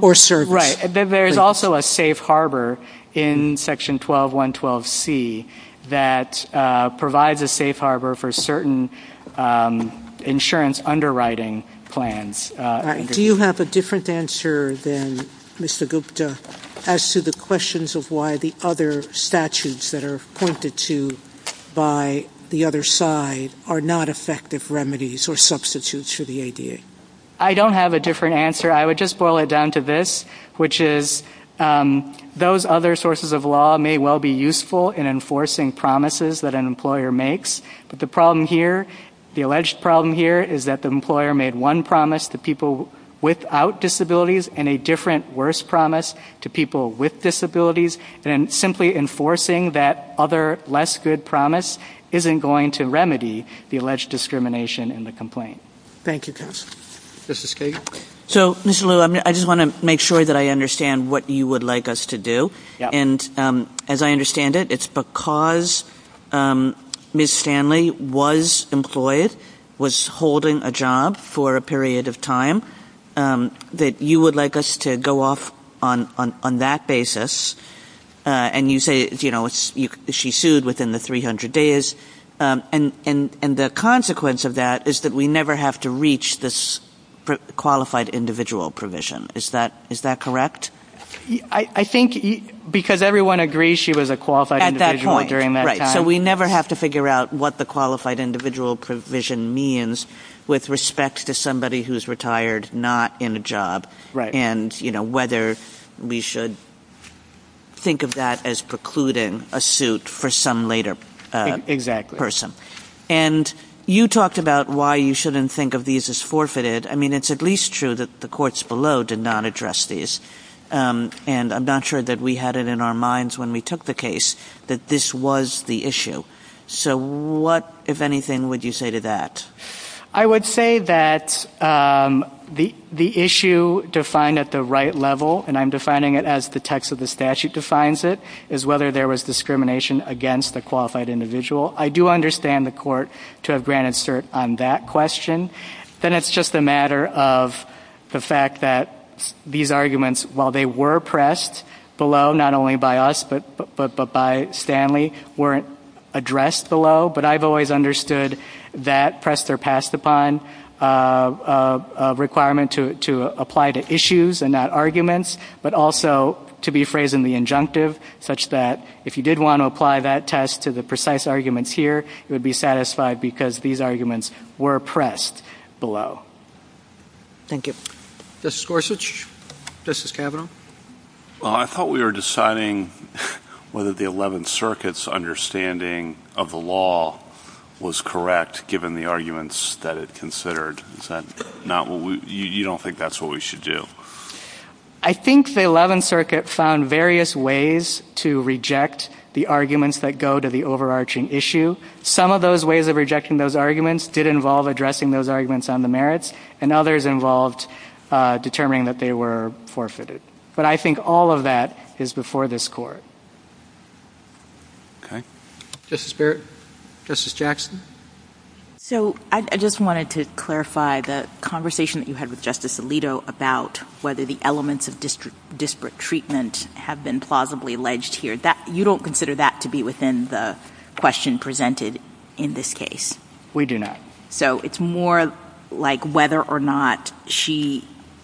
Or certain. Right. And then there's also a safe harbor in section 12, 112 C that provides a safe harbor for certain insurance underwriting plans. Do you have a different answer than Mr. Gupta as to the questions of why the other statutes that are pointed to by the other side are not effective remedies or substitutes for the ADA? I don't have a different answer. I would just boil it down to this, which is those other sources of law may well be useful in enforcing promises that an employer makes, but the problem here, the alleged problem here is that the employer made one promise to people without disabilities and a different worse promise to people with disabilities and simply enforcing that other less good promise isn't going to remedy the alleged discrimination in the complaint. Thank you, Chris. This is Kate. So, Mr. Liu, I just want to make sure that I understand what you would like us to do. And as I understand it, it's because Ms. Stanley was employed, was holding a job for a period of time that you would like us to go off on that basis. And you say, you know, she sued within the 300 days. And the consequence of that is that we never have to reach this qualified individual provision. Is that correct? I think because everyone agrees she was a qualified individual during that time. So, we never have to figure out what the qualified individual provision means with respect to somebody who's retired, not in a job. And, you know, whether we should think of that as precluding a suit for some later person. And you talked about why you shouldn't think of these as forfeited. I mean, it's at least true that the courts below did not address these. And I'm not sure that we had it in our minds when we took the case that this was the issue. So, what, if anything, would you say to that? I would say that the issue defined at the right level, and I'm defining it as the text of the statute defines it, is whether there was discrimination against the qualified individual. I do understand the court to have granted cert on that question. Then it's just a matter of the fact that these arguments, while they were pressed below, not only by us, but by Stanley, weren't addressed below. But I've always understood that pressed or passed upon a requirement to apply to issues and not arguments, but also to be phrased in the injunctive, such that if you did want to apply that test to the precise arguments here, it would be satisfied because these arguments were pressed below. Thank you. Justice Gorsuch, Justice Kavanaugh. I thought we were deciding whether the 11th Circuit's understanding of the law was correct, given the arguments that it considered. Is that not what we, you don't think that's what we should do? I think the 11th Circuit found various ways to reject the arguments that go to the overarching issue. Some of those ways of rejecting those arguments did involve addressing those arguments on the merits, and others involved determining that they were forfeited. But I think all of that is before this Court. Okay. Justice Barrett, Justice Jackson. So, I just wanted to clarify the conversation that you had with Justice Alito about whether the elements of disparate treatment have been plausibly alleged here. You don't consider that to be within the question presented in this case? We do not. So, it's more like whether or not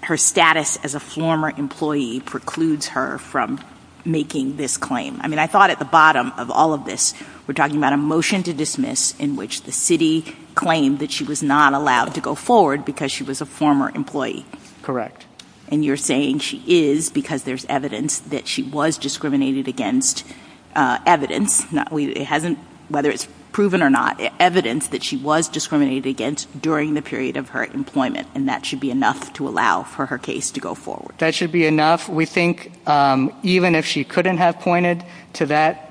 her status as a former employee precludes her from making this claim. I mean, I thought at the bottom of all of this, we're talking about a motion to dismiss in which the city claimed that she was not allowed to go forward because she was a former employee. And you're saying she is because there's evidence that she was discriminated against. Evidence, whether it's proven or not, evidence that she was discriminated against during the period of her employment, and that should be enough to allow for her case to go forward. That should be enough. We think even if she couldn't have pointed to that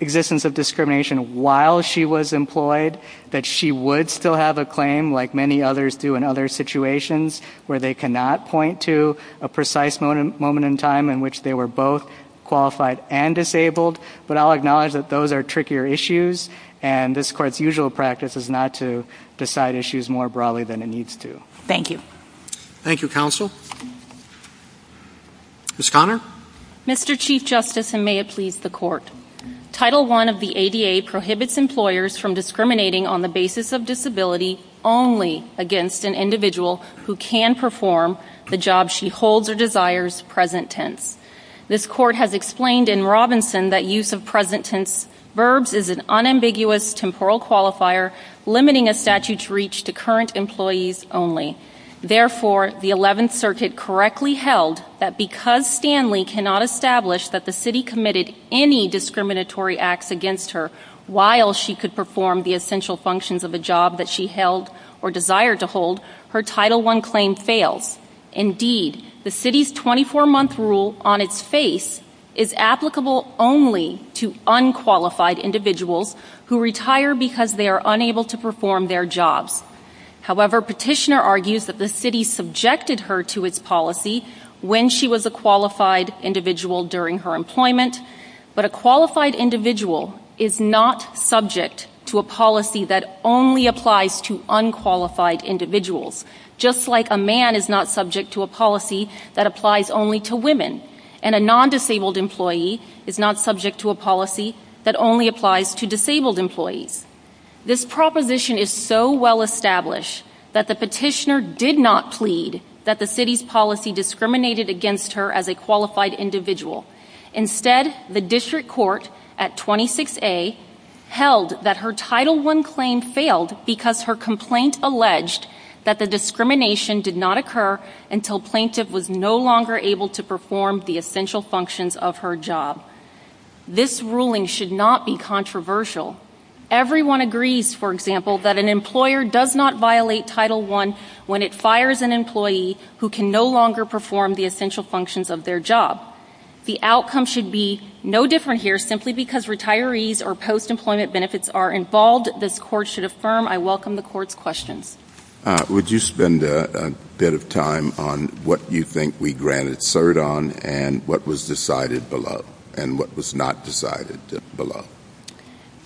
existence of discrimination while she was employed, that she would still have a claim like many others do in other situations where they cannot point to a precise moment in time in which they were both qualified and disabled. But I'll acknowledge that those are trickier issues, and this Court's usual practice is not to decide issues more broadly than it needs to. Thank you. Thank you, Counsel. Ms. Conner? Mr. Chief Justice, and may it please the Court. Title I of the ADA prohibits employers from discriminating on the basis of disability only against an individual who can perform the job she holds or desires present tense. This Court has explained in Robinson that use of present tense verbs is an unambiguous temporal qualifier, limiting a statute's reach to current employees only. Therefore, the 11th Circuit correctly held that because Stanley cannot establish that a city committed any discriminatory acts against her while she could perform the essential functions of a job that she held or desired to hold, her Title I claim failed. Indeed, the city's 24-month rule on its face is applicable only to unqualified individuals who retire because they are unable to perform their jobs. However, Petitioner argues that the city subjected her to its policy when she was a qualified individual during her employment, but a qualified individual is not subject to a policy that only applies to unqualified individuals, just like a man is not subject to a policy that applies only to women, and a non-disabled employee is not subject to a policy that only applies to disabled employees. This proposition is so well established that the Petitioner did not plead that the city's discriminated against her as a qualified individual. Instead, the District Court at 26A held that her Title I claim failed because her complaint alleged that the discrimination did not occur until plaintiff was no longer able to perform the essential functions of her job. This ruling should not be controversial. Everyone agrees, for example, that an employer does not violate Title I when it fires an employee who can no longer perform the essential functions of their job. The outcome should be no different here simply because retirees or post-employment benefits are involved. This Court should affirm. I welcome the Court's question. Would you spend a bit of time on what you think we granted cert on and what was decided below and what was not decided below?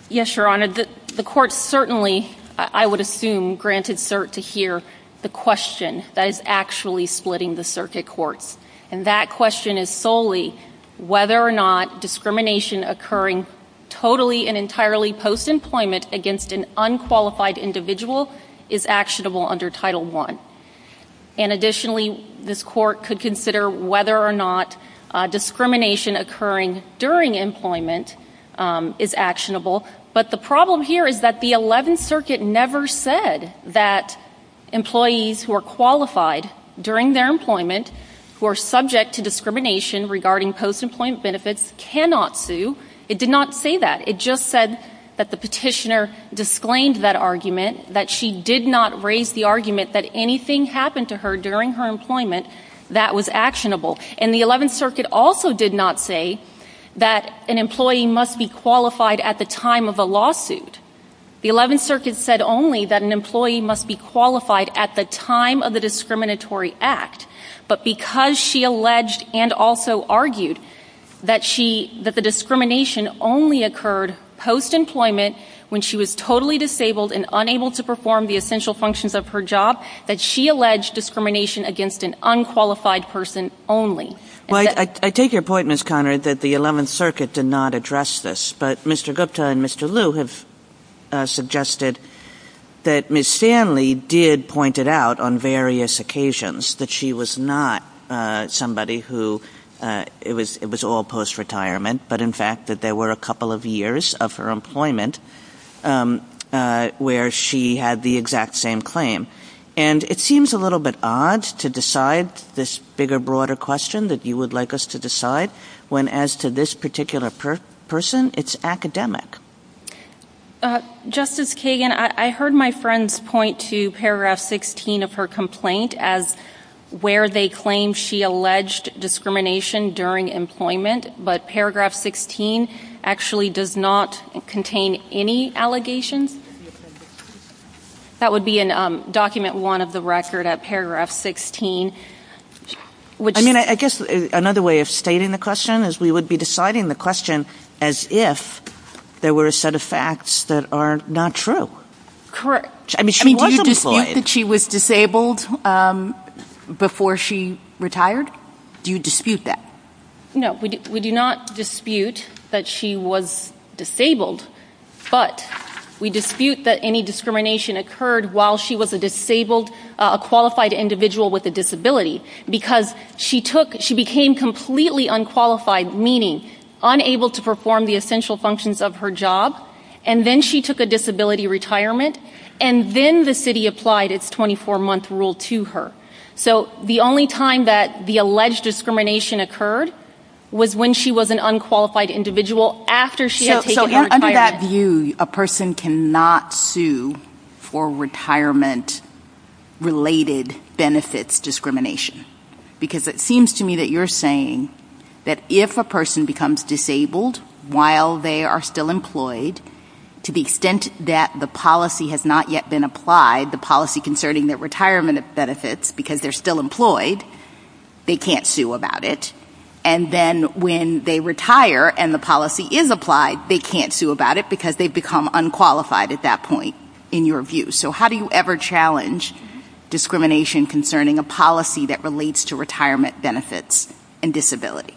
Yes, Your Honor. The Court certainly, I would assume, granted cert to hear the question. That is actually splitting the circuit courts. And that question is solely whether or not discrimination occurring totally and entirely post-employment against an unqualified individual is actionable under Title I. And additionally, this Court could consider whether or not discrimination occurring during employment is actionable. But the problem here is that the Eleventh Circuit never said that employees who are qualified during their employment who are subject to discrimination regarding post-employment benefits cannot sue. It did not say that. It just said that the petitioner disclaimed that argument, that she did not raise the argument that anything happened to her during her employment that was actionable. And the Eleventh Circuit also did not say that an employee must be qualified at the time of a lawsuit. The Eleventh Circuit said only that an employee must be qualified at the time of the discriminatory act. But because she alleged and also argued that the discrimination only occurred post-employment when she was totally disabled and unable to perform the essential functions of her job, that she alleged discrimination against an unqualified person only. Well, I take your point, Ms. Connery, that the Eleventh Circuit did not address this. But Mr. Gupta and Mr. Liu have suggested that Ms. Stanley did point it out on various occasions that she was not somebody who it was all post-retirement, but in fact that there were a couple of years of her employment where she had the exact same claim. And it seems a little bit odd to decide this bigger, broader question that you would like us to decide when, as to this particular person, it's academic. Justice Kagan, I heard my friends point to paragraph 16 of her complaint as where they claim she alleged discrimination during employment, but paragraph 16 actually does not contain any allegations. That would be in document one of the record at paragraph 16. I mean, I guess another way of stating the question is we would be deciding the question as if there were a set of facts that are not true. Correct. I mean, do you dispute that she was disabled before she retired? Do you dispute that? No, we do not dispute that she was disabled. But we dispute that any discrimination occurred while she was a qualified individual with a disability, because she became completely unqualified, meaning unable to perform the essential functions of her job, and then she took a disability retirement, and then the city applied its 24-month rule to her. So the only time that the alleged discrimination occurred was when she was an unqualified individual after she had taken her retirement. So under that view, a person cannot sue for retirement-related benefits discrimination, because it seems to me that you're saying that if a person becomes disabled while they are still employed, to the extent that the policy has not yet been applied, the policy concerning their retirement benefits, because they're still employed, they can't sue about it, and then when they retire and the policy is applied, they can't sue about it because they've become unqualified at that point, in your view. So how do you ever challenge discrimination concerning a policy that relates to retirement benefits and disability?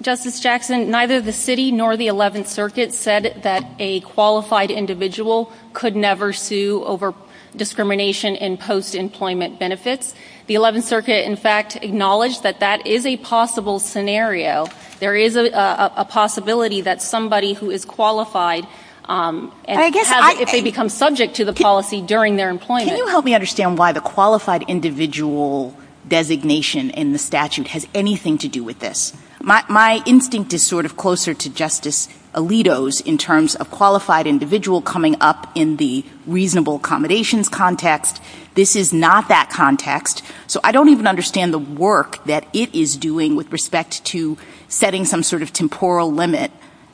Justice Jackson, neither the city nor the 11th Circuit said that a qualified individual could never sue over discrimination in post-employment benefits. The 11th Circuit, in fact, acknowledged that that is a possible scenario. There is a possibility that somebody who is qualified, if they become subject to the policy during their employment- Can you help me understand why the qualified individual designation in the statute has anything to do with this? My instinct is sort of closer to Justice Alito's in terms of qualified individual coming up in the reasonable accommodations context. This is not that context. So I don't even understand the work that it is doing with respect to setting some sort of temporal limit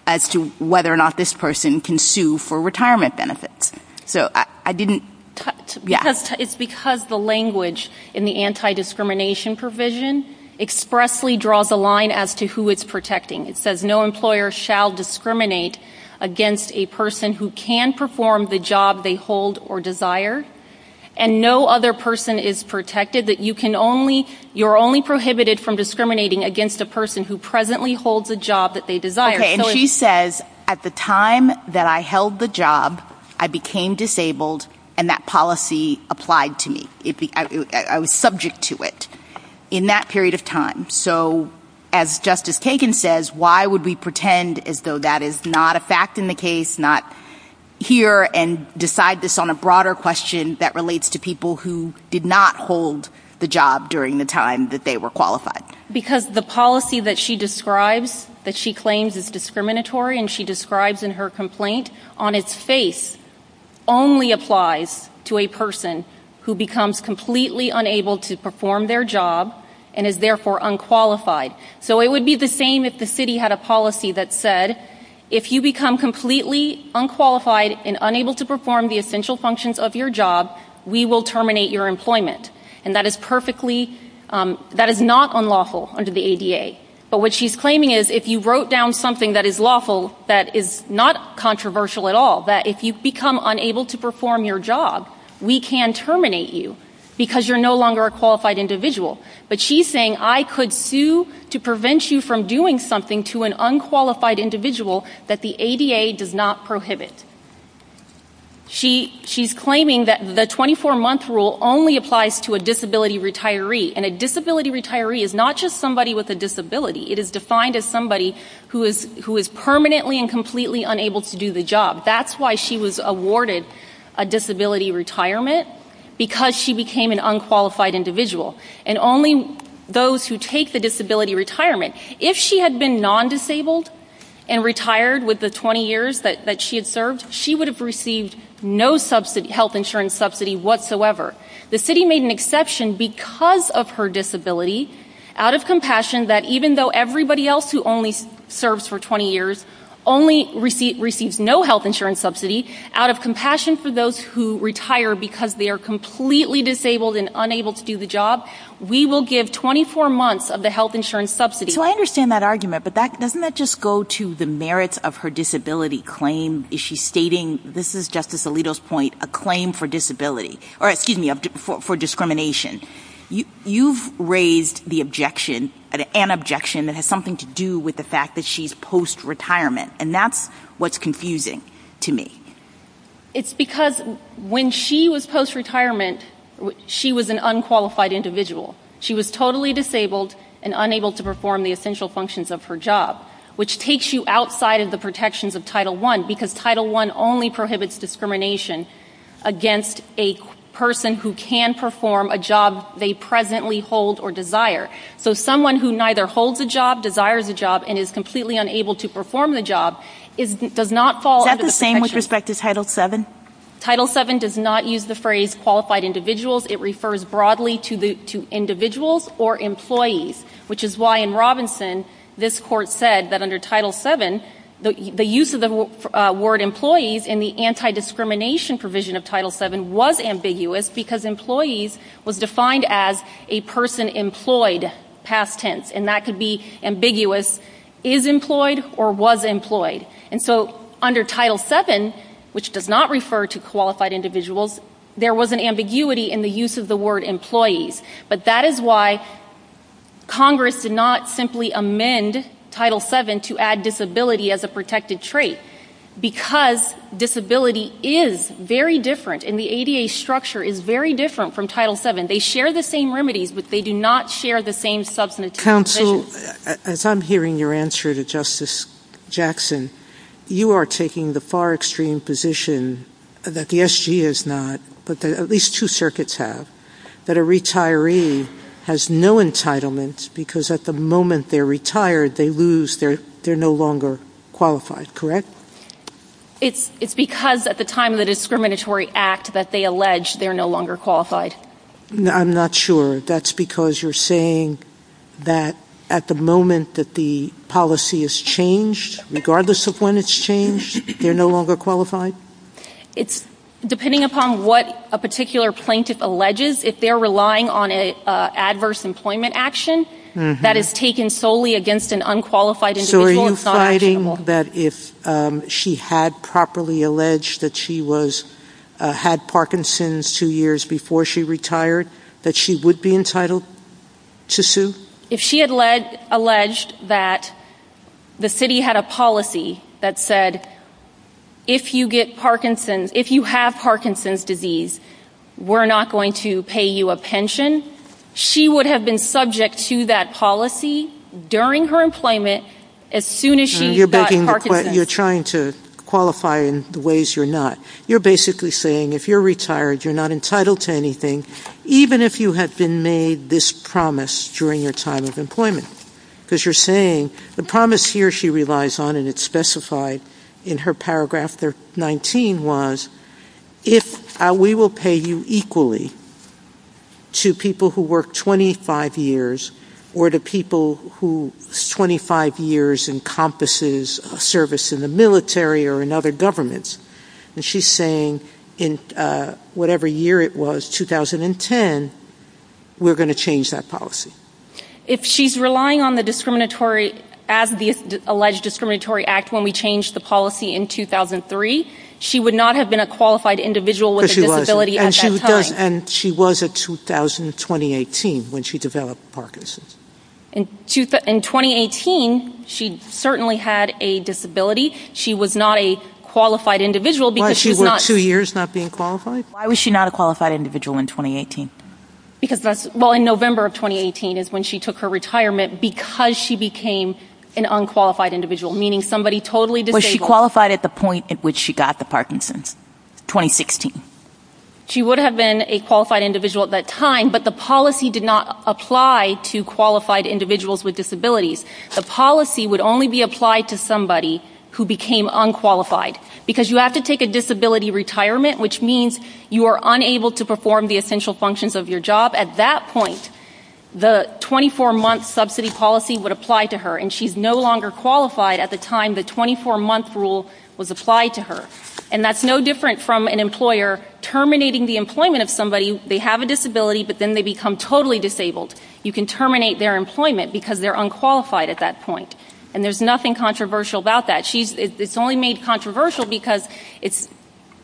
as to whether or not this person can sue for retirement benefits. So I didn't- It's because the language in the anti-discrimination provision expressly draws a line as to who is protecting. It says, no employer shall discriminate against a person who can perform the job they hold or desire, and no other person is protected. You're only prohibited from discriminating against a person who presently holds a job that they desire. Okay, and she says, at the time that I held the job, I became disabled and that policy applied to me. I was subject to it in that period of time. So as Justice Kagan says, why would we pretend as though that is not a fact in the case, not hear and decide this on a broader question that relates to people who did not hold the job during the time that they were qualified? Because the policy that she describes, that she claims is discriminatory and she describes in her complaint, on its face only applies to a person who becomes completely unable to perform their job and is therefore unqualified. So it would be the same if the city had a policy that said, if you become completely unqualified and unable to perform the essential functions of your job, we will terminate your employment. And that is perfectly, that is not unlawful under the ADA. But what she's claiming is, if you wrote down something that is lawful, that is not controversial at all, that if you become unable to perform your job, we can terminate you because you're no longer a qualified individual. But she's saying, I could sue to prevent you from doing something to an unqualified individual that the ADA does not prohibit. She's claiming that the 24-month rule only applies to a disability retiree. And a disability retiree is not just somebody with a disability. It is defined as somebody who is permanently and completely unable to do the job. That's why she was awarded a disability retirement, because she became an unqualified individual. And only those who take the disability retirement. If she had been non-disabled and retired with the 20 years that she had served, she would have received no health insurance subsidy whatsoever. The city made an exception because of her disability, out of compassion that even though everybody else who only serves for 20 years only receives no health insurance subsidy, out of compassion for those who retire because they are completely disabled and unable to do the job, we will give 24 months of the health insurance subsidy. So I understand that argument, but doesn't that just go to the merits of her disability claim? Is she stating, this is Justice Alito's point, a claim for disability, or excuse me, for discrimination. You've raised the objection, an objection that has something to do with the fact that she's post-retirement. And that's what's confusing to me. It's because when she was post-retirement, she was an unqualified individual. She was totally disabled and unable to perform the essential functions of her job, which takes you outside of the protections of Title I, because Title I only prohibits discrimination against a person who can perform a job they presently hold or desire. So someone who neither holds a job, desires a job, and is completely unable to perform the job, does not fall under the protections. Title VII? Title VII does not use the phrase qualified individuals. It refers broadly to individuals or employees, which is why in Robinson, this court said that under Title VII, the use of the word employees in the anti-discrimination provision of Title VII was ambiguous because employees was defined as a person employed, past tense. And that could be ambiguous, is employed or was employed. And so under Title VII, which does not refer to qualified individuals, there was an ambiguity in the use of the word employees. But that is why Congress did not simply amend Title VII to add disability as a protected trait, because disability is very different, and the ADA structure is very different from Title VII. They share the same remedies, but they do not share the same substance. Counsel, as I'm hearing your answer to Justice Jackson, you are taking the far extreme position that the SG is not, but that at least two circuits have, that a retiree has no entitlement because at the moment they're retired, they lose, they're no longer qualified, correct? It's because at the time of the discriminatory act that they allege they're no longer qualified. I'm not sure. That's because you're saying that at the moment that the policy is changed, regardless of when it's changed, they're no longer qualified? It's depending upon what a particular plaintiff alleges. If they're relying on an adverse employment action, that is taken solely against an unqualified individual. So are you fighting that if she had properly alleged that she had Parkinson's two years before she retired, that she would be entitled to sue? If she had alleged that the city had a policy that said, if you have Parkinson's disease, we're not going to pay you a pension, she would have been subject to that policy during her employment as soon as she got Parkinson's. You're trying to qualify in the ways you're not. You're basically saying if you're retired, you're not entitled to anything, even if you have been made this promise during your time of employment, because you're saying the promise here she relies on and it's specified in her paragraph 19 was, if we will pay you equally to people who work 25 years or to people whose 25 years encompasses service in the military or in other governments, and she's saying in whatever year it was, 2010, we're going to change that policy. If she's relying on the discriminatory, as the alleged discriminatory act when we changed the policy in 2003, she would not have been a qualified individual with a disability at that time. And she was in 2018 when she developed Parkinson's. In 2018, she certainly had a disability. She was not a qualified individual. Why was she not a qualified individual in 2018? Well, in November of 2018 is when she took her retirement because she became an unqualified individual, meaning somebody totally disabled. Was she qualified at the point at which she got the Parkinson's? 2016. She would have been a qualified individual at that time, but the policy did not apply to qualified individuals with disabilities. The policy would only be applied to somebody who became unqualified because you have to take a disability retirement, which means you are unable to perform the essential functions of your job. At that point, the 24-month subsidy policy would apply to her, and she's no longer qualified at the time the 24-month rule was applied to her. And that's no different from an employer terminating the employment of somebody. They have a disability, but then they become totally disabled. You can terminate their employment because they're unqualified at that point. And there's nothing controversial about that. It's only made controversial because,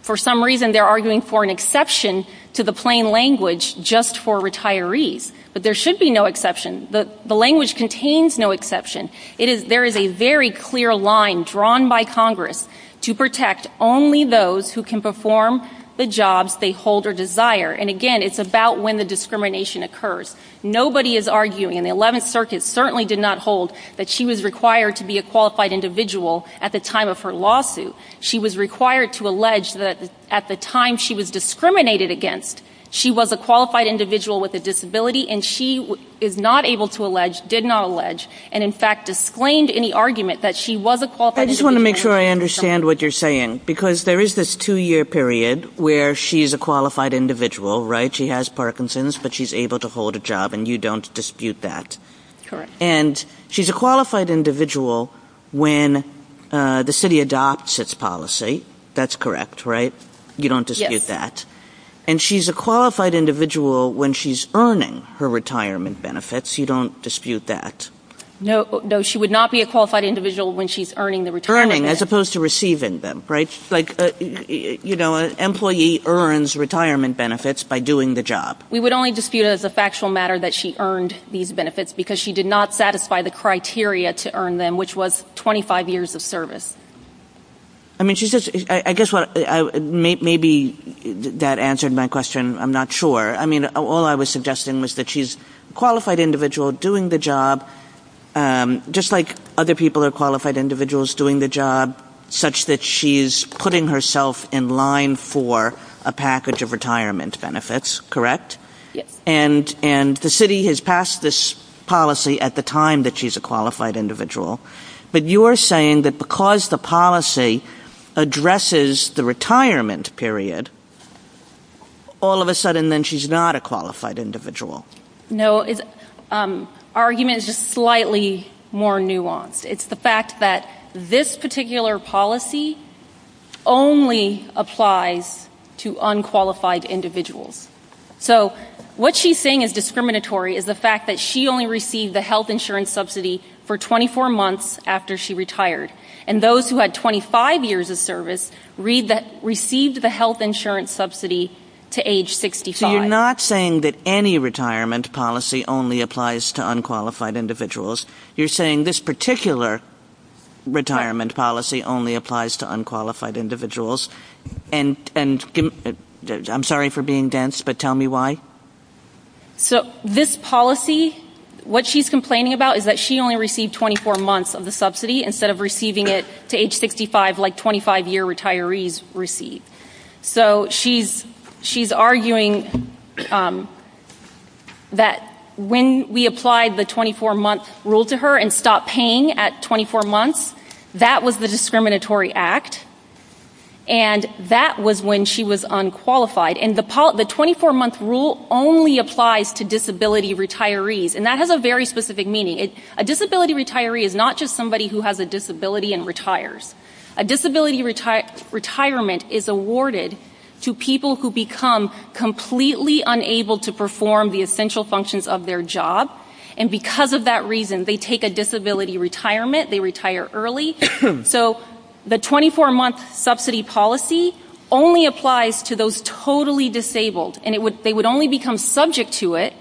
for some reason, they're arguing for an exception to the plain language just for retirees. But there should be no exception. The language contains no exception. There is a very clear line drawn by Congress to protect only those who can perform the jobs they hold or desire. And again, it's about when the discrimination occurs. Nobody is arguing, and the 11th Circuit certainly did not hold that she was required to be a qualified individual at the time of her lawsuit. She was required to allege that at the time she was discriminated against, she was a qualified individual with a disability, and she is not able to allege, did not allege, and, in fact, disclaimed any argument that she was a qualified individual. I just want to make sure I understand what you're saying, because there is this two-year period where she's a qualified individual, right? She has Parkinson's, but she's able to hold a job, and you don't dispute that. And she's a qualified individual when the city adopts its policy. That's correct, right? You don't dispute that. And she's a qualified individual when she's earning her retirement benefits. You don't dispute that. No, she would not be a qualified individual when she's earning the retirement benefits. Earning, as opposed to receiving them, right? Like, you know, an employee earns retirement benefits by doing the job. We would only dispute as a factual matter that she earned these benefits because she did not satisfy the criteria to earn them, which was 25 years of service. I mean, she's just, I guess what, maybe that answered my question. I'm not sure. I mean, all I was suggesting was that she's a qualified individual doing the job, just like other people are qualified individuals doing the job, such that she's putting herself in line for a package of retirement benefits, correct? And the city has passed this policy at the time that she's a qualified individual. But you're saying that because the policy addresses the retirement period, all of a sudden then she's not a qualified individual. No, the argument is just slightly more nuanced. It's the fact that this particular policy only applies to unqualified individuals. So what she's saying is discriminatory is the fact that she only received the health insurance subsidy for 24 months after she retired. And those who had 25 years of service received the health insurance subsidy to age 65. So you're not saying that any retirement policy only applies to unqualified individuals. You're saying this particular retirement policy only applies to unqualified individuals. And I'm sorry for being dense, but tell me why. So this policy, what she's complaining about is that she only received 24 months of the subsidy instead of receiving it to age 65, like 25-year retirees receive. So she's arguing that when we applied the 24-month rule to her and stopped paying at 24 months, that was the discriminatory act. And that was when she was unqualified. And the 24-month rule only applies to disability retirees. And that has a very specific meaning. A disability retiree is not just somebody who has a disability and retires. A disability retirement is awarded to people who become completely unable to perform the essential functions of their job. And because of that reason, they take a disability retirement. They retire early. So the 24-month subsidy policy only applies to those totally disabled. And they would only become subject to it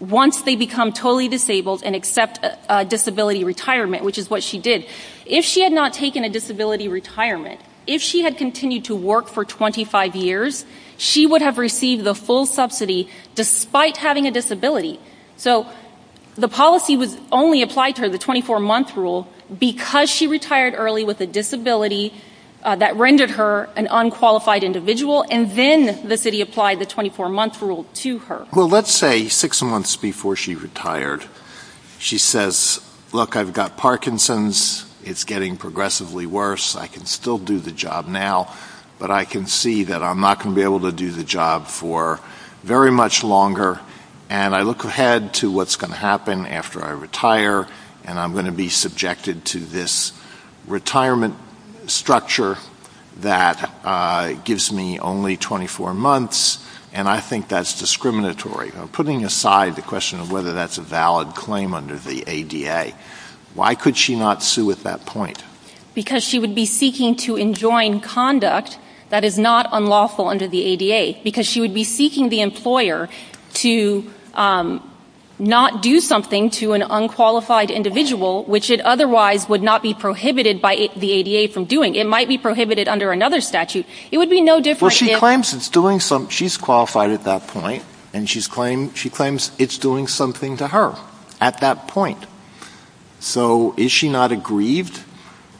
once they become totally disabled and accept a disability retirement, which is what she did. If she had not taken a disability retirement, if she had continued to work for 25 years, she would have received the full subsidy despite having a disability. So the policy only applied to her, the 24-month rule, because she retired early with a disability that rendered her an unqualified individual, and then the city applied the 24-month rule to her. Well, let's say six months before she retired, she says, look, I've got Parkinson's. It's getting progressively worse. I can still do the job now, but I can see that I'm not going to be able to do the job for very much longer. And I look ahead to what's going to happen after I retire, and I'm going to be subjected to this retirement structure that gives me only 24 months. And I think that's discriminatory. Putting aside the question of whether that's a valid claim under the ADA, why could she not sue at that point? Because she would be seeking to enjoin conduct that is not unlawful under the ADA, because she would be seeking the employer to not do something to an unqualified individual, which it otherwise would not be prohibited by the ADA from doing. It might be prohibited under another statute. It would be no different. She claims she's qualified at that point, and she claims it's doing something to her at that point. So is she not aggrieved?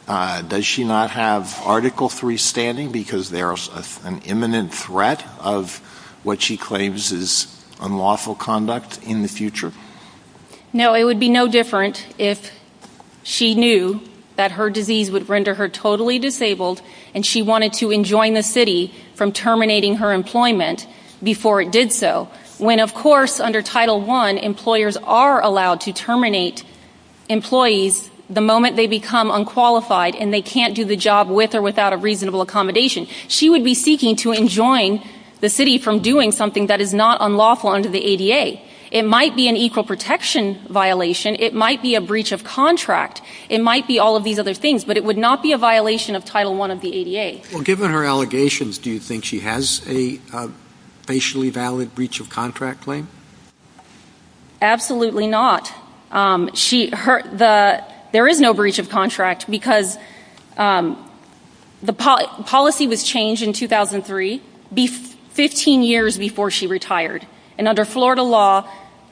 Does she not have Article III standing because there's an imminent threat of what she claims is unlawful conduct in the future? No, it would be no different if she knew that her disease would render her totally disabled, and she wanted to enjoin the city from terminating her employment before it did so. When, of course, under Title I, employers are allowed to terminate employees the moment they become unqualified and they can't do the job with or without a reasonable accommodation. She would be seeking to enjoin the city from doing something that is not unlawful under the ADA. It might be an equal protection violation. It might be a breach of contract. It might be all of these other things. But it would not be a violation of Title I of the ADA. Given her allegations, do you think she has a basically valid breach of contract claim? Absolutely not. There is no breach of contract because the policy was changed in 2003, 15 years before she retired. And under Florida law,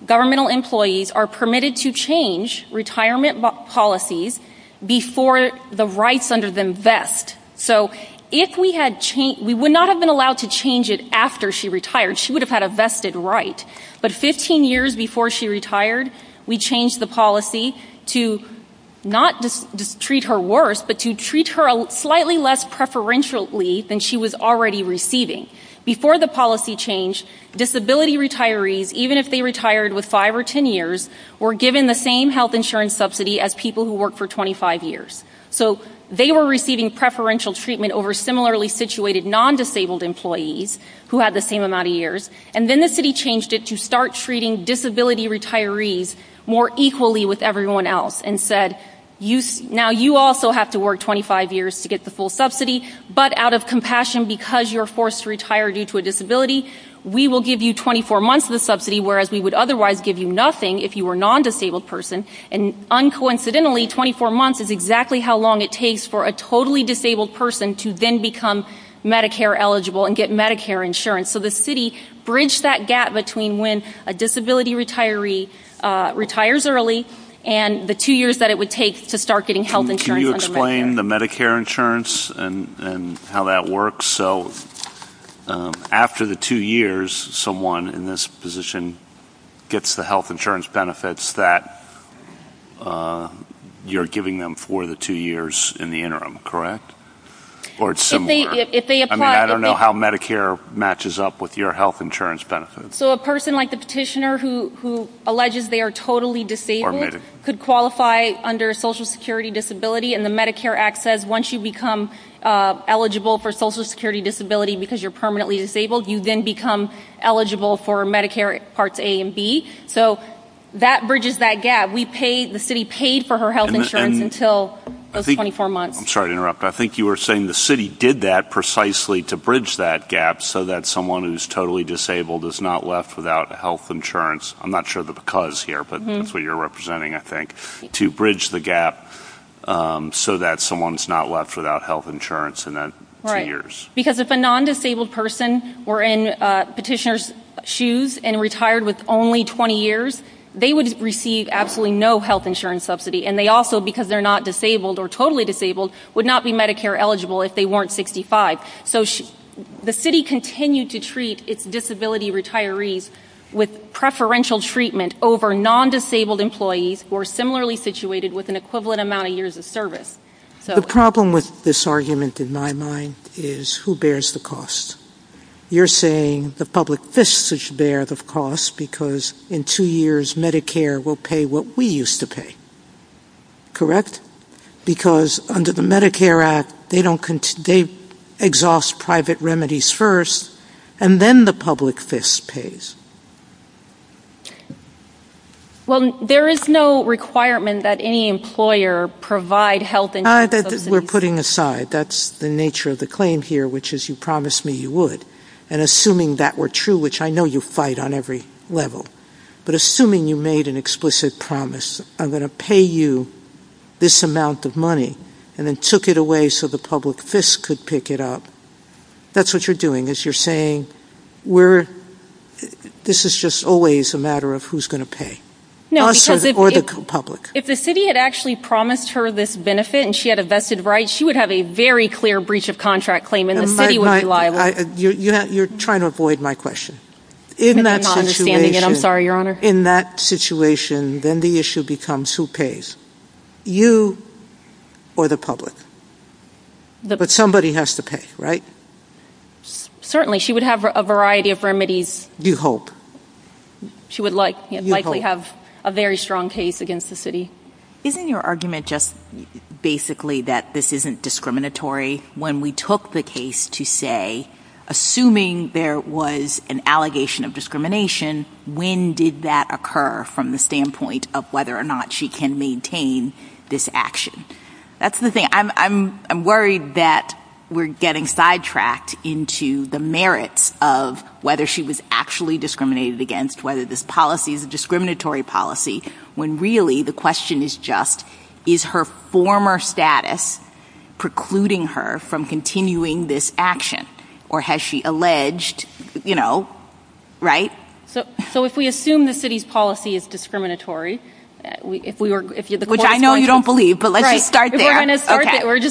governmental employees are permitted to change retirement policies before the rights under them vest. So we would not have been allowed to change it after she retired. She would have had a vested right. But 15 years before she retired, we changed the policy to not treat her worse, but to treat her slightly less preferentially than she was already receiving. Before the policy change, disability retirees, even if they retired with five or ten years, were given the same health insurance subsidy as people who worked for 25 years. So they were receiving preferential treatment over similarly situated non-disabled employees who had the same amount of years. And then the city changed it to start treating disability retirees more equally with everyone else and said, now you also have to work 25 years to get the full subsidy, but out of compassion because you are forced to retire due to a disability, we will give you 24 months of subsidy, whereas we would otherwise give you nothing if you were a non-disabled person. And uncoincidentally, 24 months is exactly how long it takes for a totally disabled person to then become Medicare eligible and get Medicare insurance. So the city bridged that gap between when a disability retiree retires early and the two years that it would take to start getting health insurance under Medicare. Can you explain the Medicare insurance and how that works? So after the two years, someone in this position gets the health insurance benefits that you're giving them for the two years in the interim, correct? Or it's similar? I don't know how Medicare matches up with your health insurance benefits. So a person like the petitioner who alleges they are totally disabled could qualify under Social Security disability and the Medicare Act says once you become eligible for Social Security disability because you're permanently disabled, you then become eligible for Medicare parts A and B. So that bridges that gap. We paid, the city paid for her health insurance until those 24 months. I'm sorry to interrupt. I think you were saying the city did that precisely to bridge that gap so that someone who's totally disabled is not left without health insurance. I'm not sure the because here, but that's what you're representing, I think, to bridge the gap so that someone's not left without health insurance in the two years. Because if a non-disabled person were in petitioner's shoes and retired with only 20 years, they would receive absolutely no health insurance subsidy. And they also, because they're not disabled or totally disabled, would not be Medicare eligible if they weren't 65. So the city continued to treat its disability retirees with preferential treatment over non-disabled employees who are similarly situated with an equivalent amount of years of service. The problem with this argument, in my mind, is who bears the cost? You're saying the public fists should bear the cost because in two years, Medicare will pay what we used to pay, correct? Because under the Medicare Act, they exhaust private remedies first, and then the public fist pays. Well, there is no requirement that any employer provide health insurance subsidy. We're putting aside. That's the nature of the claim here, which is you promised me you would. And assuming that were true, which I know you fight on every level, but assuming you made an explicit promise, I'm going to pay you this amount of money, and then took it away so the public fist could pick it up, that's what you're doing, is you're saying we're, this is just always a matter of who's going to pay, us or the public. If the city had actually promised her this benefit and she had a vested right, she would have a very clear breach of contract claim and the city would be liable. You're trying to avoid my question. In that situation, then the issue becomes who pays, you or the public? But somebody has to pay, right? Certainly, she would have a variety of remedies. You hope. She would likely have a very strong case against the city. Isn't your argument just basically that this isn't discriminatory when we took the case to say, assuming there was an allegation of discrimination, when did that occur from the standpoint of whether or not she can maintain this action? That's the thing. I'm worried that we're getting sidetracked into the merits of whether she was actually discriminated against, whether this policy is a discriminatory policy, when really the question is just, is her former status precluding her from continuing this action? Or has she alleged, you know, right? So if we assume the city's policy is discriminatory, if we were, if you're the We're just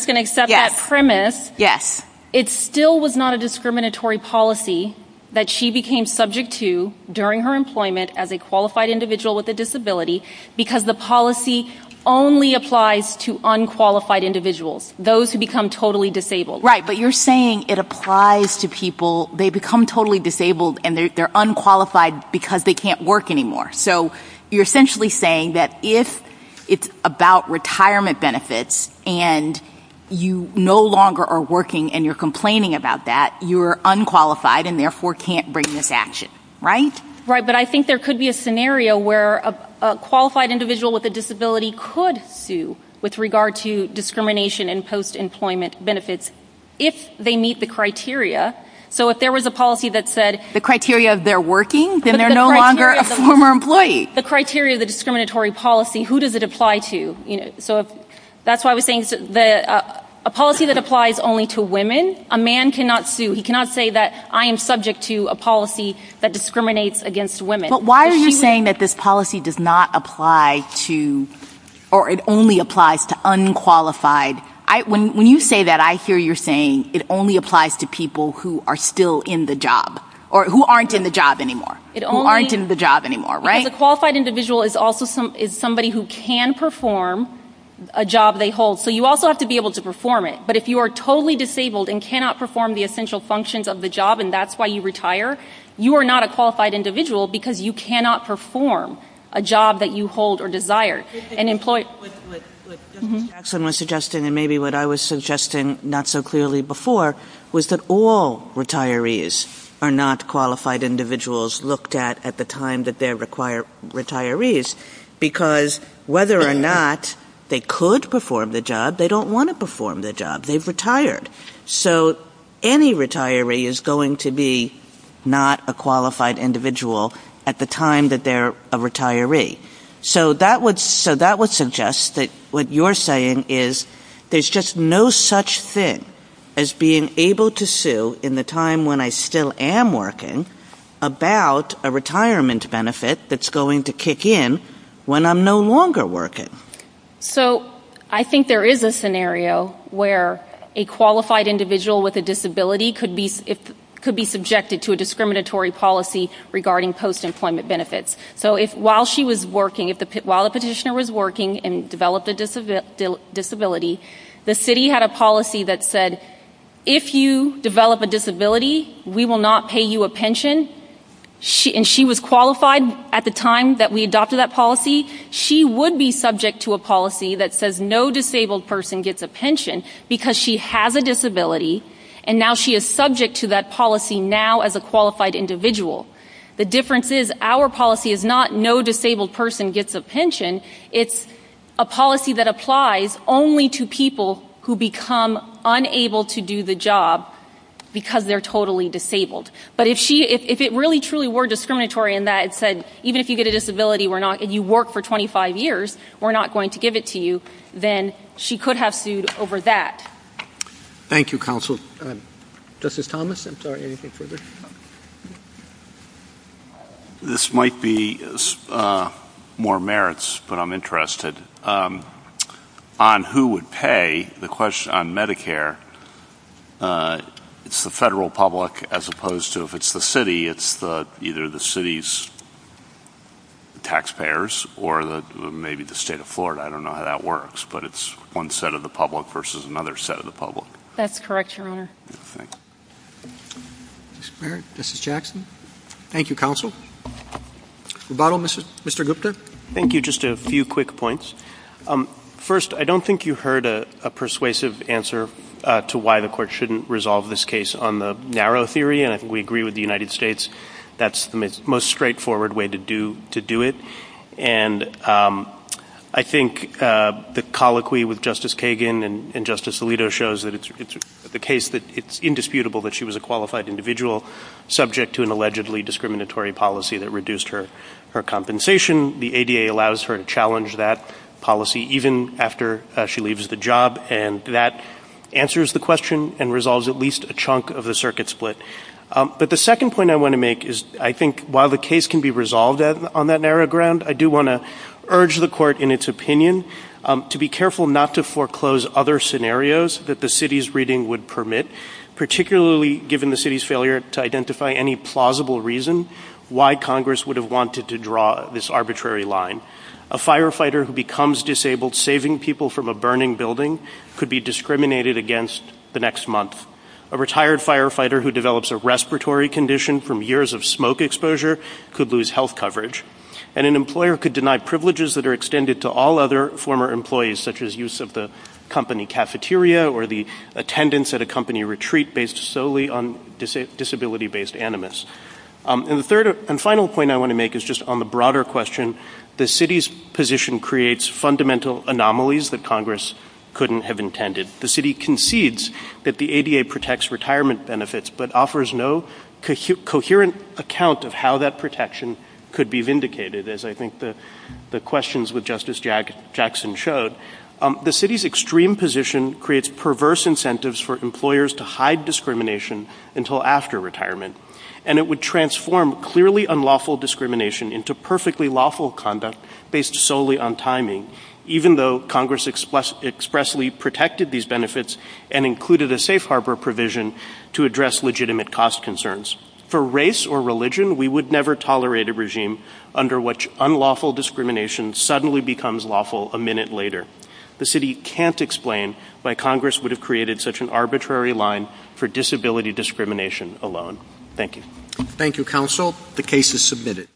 going to accept that premise. Yes. It still was not a discriminatory policy that she became subject to during her employment as a qualified individual with a disability because the policy only applies to unqualified individuals, those who become totally disabled. Right. But you're saying it applies to people, they become totally disabled and they're unqualified because they can't work anymore. So you're essentially saying that if it's about retirement benefits and you no longer are working and you're complaining about that, you're unqualified and therefore can't bring this action, right? Right. But I think there could be a scenario where a qualified individual with a disability could sue with regard to discrimination and post-employment benefits if they meet the criteria. So if there was a policy that said the criteria, they're working, then they're no longer a former employee. The criteria, the discriminatory policy, who does it apply to? So that's why we think that a policy that applies only to women, a man cannot sue. He cannot say that I am subject to a policy that discriminates against women. But why are you saying that this policy does not apply to, or it only applies to unqualified? I, when you say that, I hear you're saying it only applies to people who are still in the job or who aren't in the job anymore. Who aren't in the job anymore, right? The qualified individual is also somebody who can perform a job they hold. So you also have to be able to perform it. But if you are totally disabled and cannot perform the essential functions of the job, and that's why you retire, you are not a qualified individual because you cannot perform a job that you hold or desire and employ. What Jackson was suggesting and maybe what I was suggesting not so clearly before was that all retirees are not qualified individuals looked at at the time that they're retirees because whether or not they could perform the job, they don't want to perform the job. They've retired. So any retiree is going to be not a qualified individual at the time that they're a retiree. So that would, so that would suggest that what you're saying is there's just no such thing as being able to sue in the time when I still am working about a retirement benefit that's going to kick in when I'm no longer working. So I think there is a scenario where a qualified individual with a disability could be, it could be subjected to a discriminatory policy regarding post-employment benefits. So while she was working, while the petitioner was working and developed a disability, the city had a policy that said if you develop a disability, we will not pay you a pension. And she was qualified at the time that we adopted that policy. She would be subject to a policy that says no disabled person gets a pension because she has a disability and now she is subject to that policy now as a qualified individual. The difference is our policy is not no disabled person gets a pension. It's a policy that applies only to people who become unable to do the job because they're totally disabled. But if she, if it really truly were discriminatory in that it said, even if you get a disability, we're not, and you work for 25 years, we're not going to give it to you, then she could have sued over that. Thank you, counsel. Justice Thomas, I'm sorry, anything further? This might be more merits, but I'm interested on who would pay the question on Medicare. It's the federal public as opposed to if it's the city, it's the either the city's taxpayers or the maybe the state of Florida. I don't know how that works, but it's one set of the public versus another set of the public. That's correct, Your Honor. All right. This is Jackson. Thank you, counsel. Rebuttal, Mr. Gupta. Thank you. Just a few quick points. First, I don't think you heard a persuasive answer to why the court shouldn't resolve this case on the narrow theory. We agree with the United States. That's the most straightforward way to do it. And I think the colloquy with Justice Kagan and Justice Alito shows that it's the case that it's indisputable that she was a qualified individual subject to an allegedly discriminatory policy that reduced her compensation. The ADA allows her to challenge that policy even after she leaves the job. And that answers the question and resolves at least a chunk of the circuit split. But the second point I want to make is I think while the case can be resolved on that narrow ground, I do want to urge the court in its opinion to be careful not to foreclose other scenarios that the city's reading would permit, particularly given the city's failure to identify any plausible reason why Congress would have wanted to draw this arbitrary line. A firefighter who becomes disabled saving people from a burning building could be discriminated against the next month. A retired firefighter who develops a respiratory condition from years of smoke exposure could lose health coverage. And an employer could deny privileges that are extended to all other former employees such as use of the company cafeteria or the attendance at a company retreat based solely on disability-based animus. And the third and final point I want to make is just on the broader question, the city's position creates fundamental anomalies that Congress couldn't have intended. The city concedes that the ADA protects retirement benefits but offers no coherent account of how that protection could be vindicated as I think the questions with Justice Jackson showed, the city's extreme position creates perverse incentives for employers to hide discrimination until after retirement and it would transform clearly unlawful discrimination into perfectly lawful conduct based solely on timing, even though Congress expressly protected these benefits and included a safe harbor provision to address legitimate cost concerns. For race or religion, we would never tolerate a regime under which unlawful discrimination suddenly becomes lawful a minute later. The city can't explain why Congress would have created such an arbitrary line for disability discrimination alone. Thank you. Thank you, counsel. The case is submitted.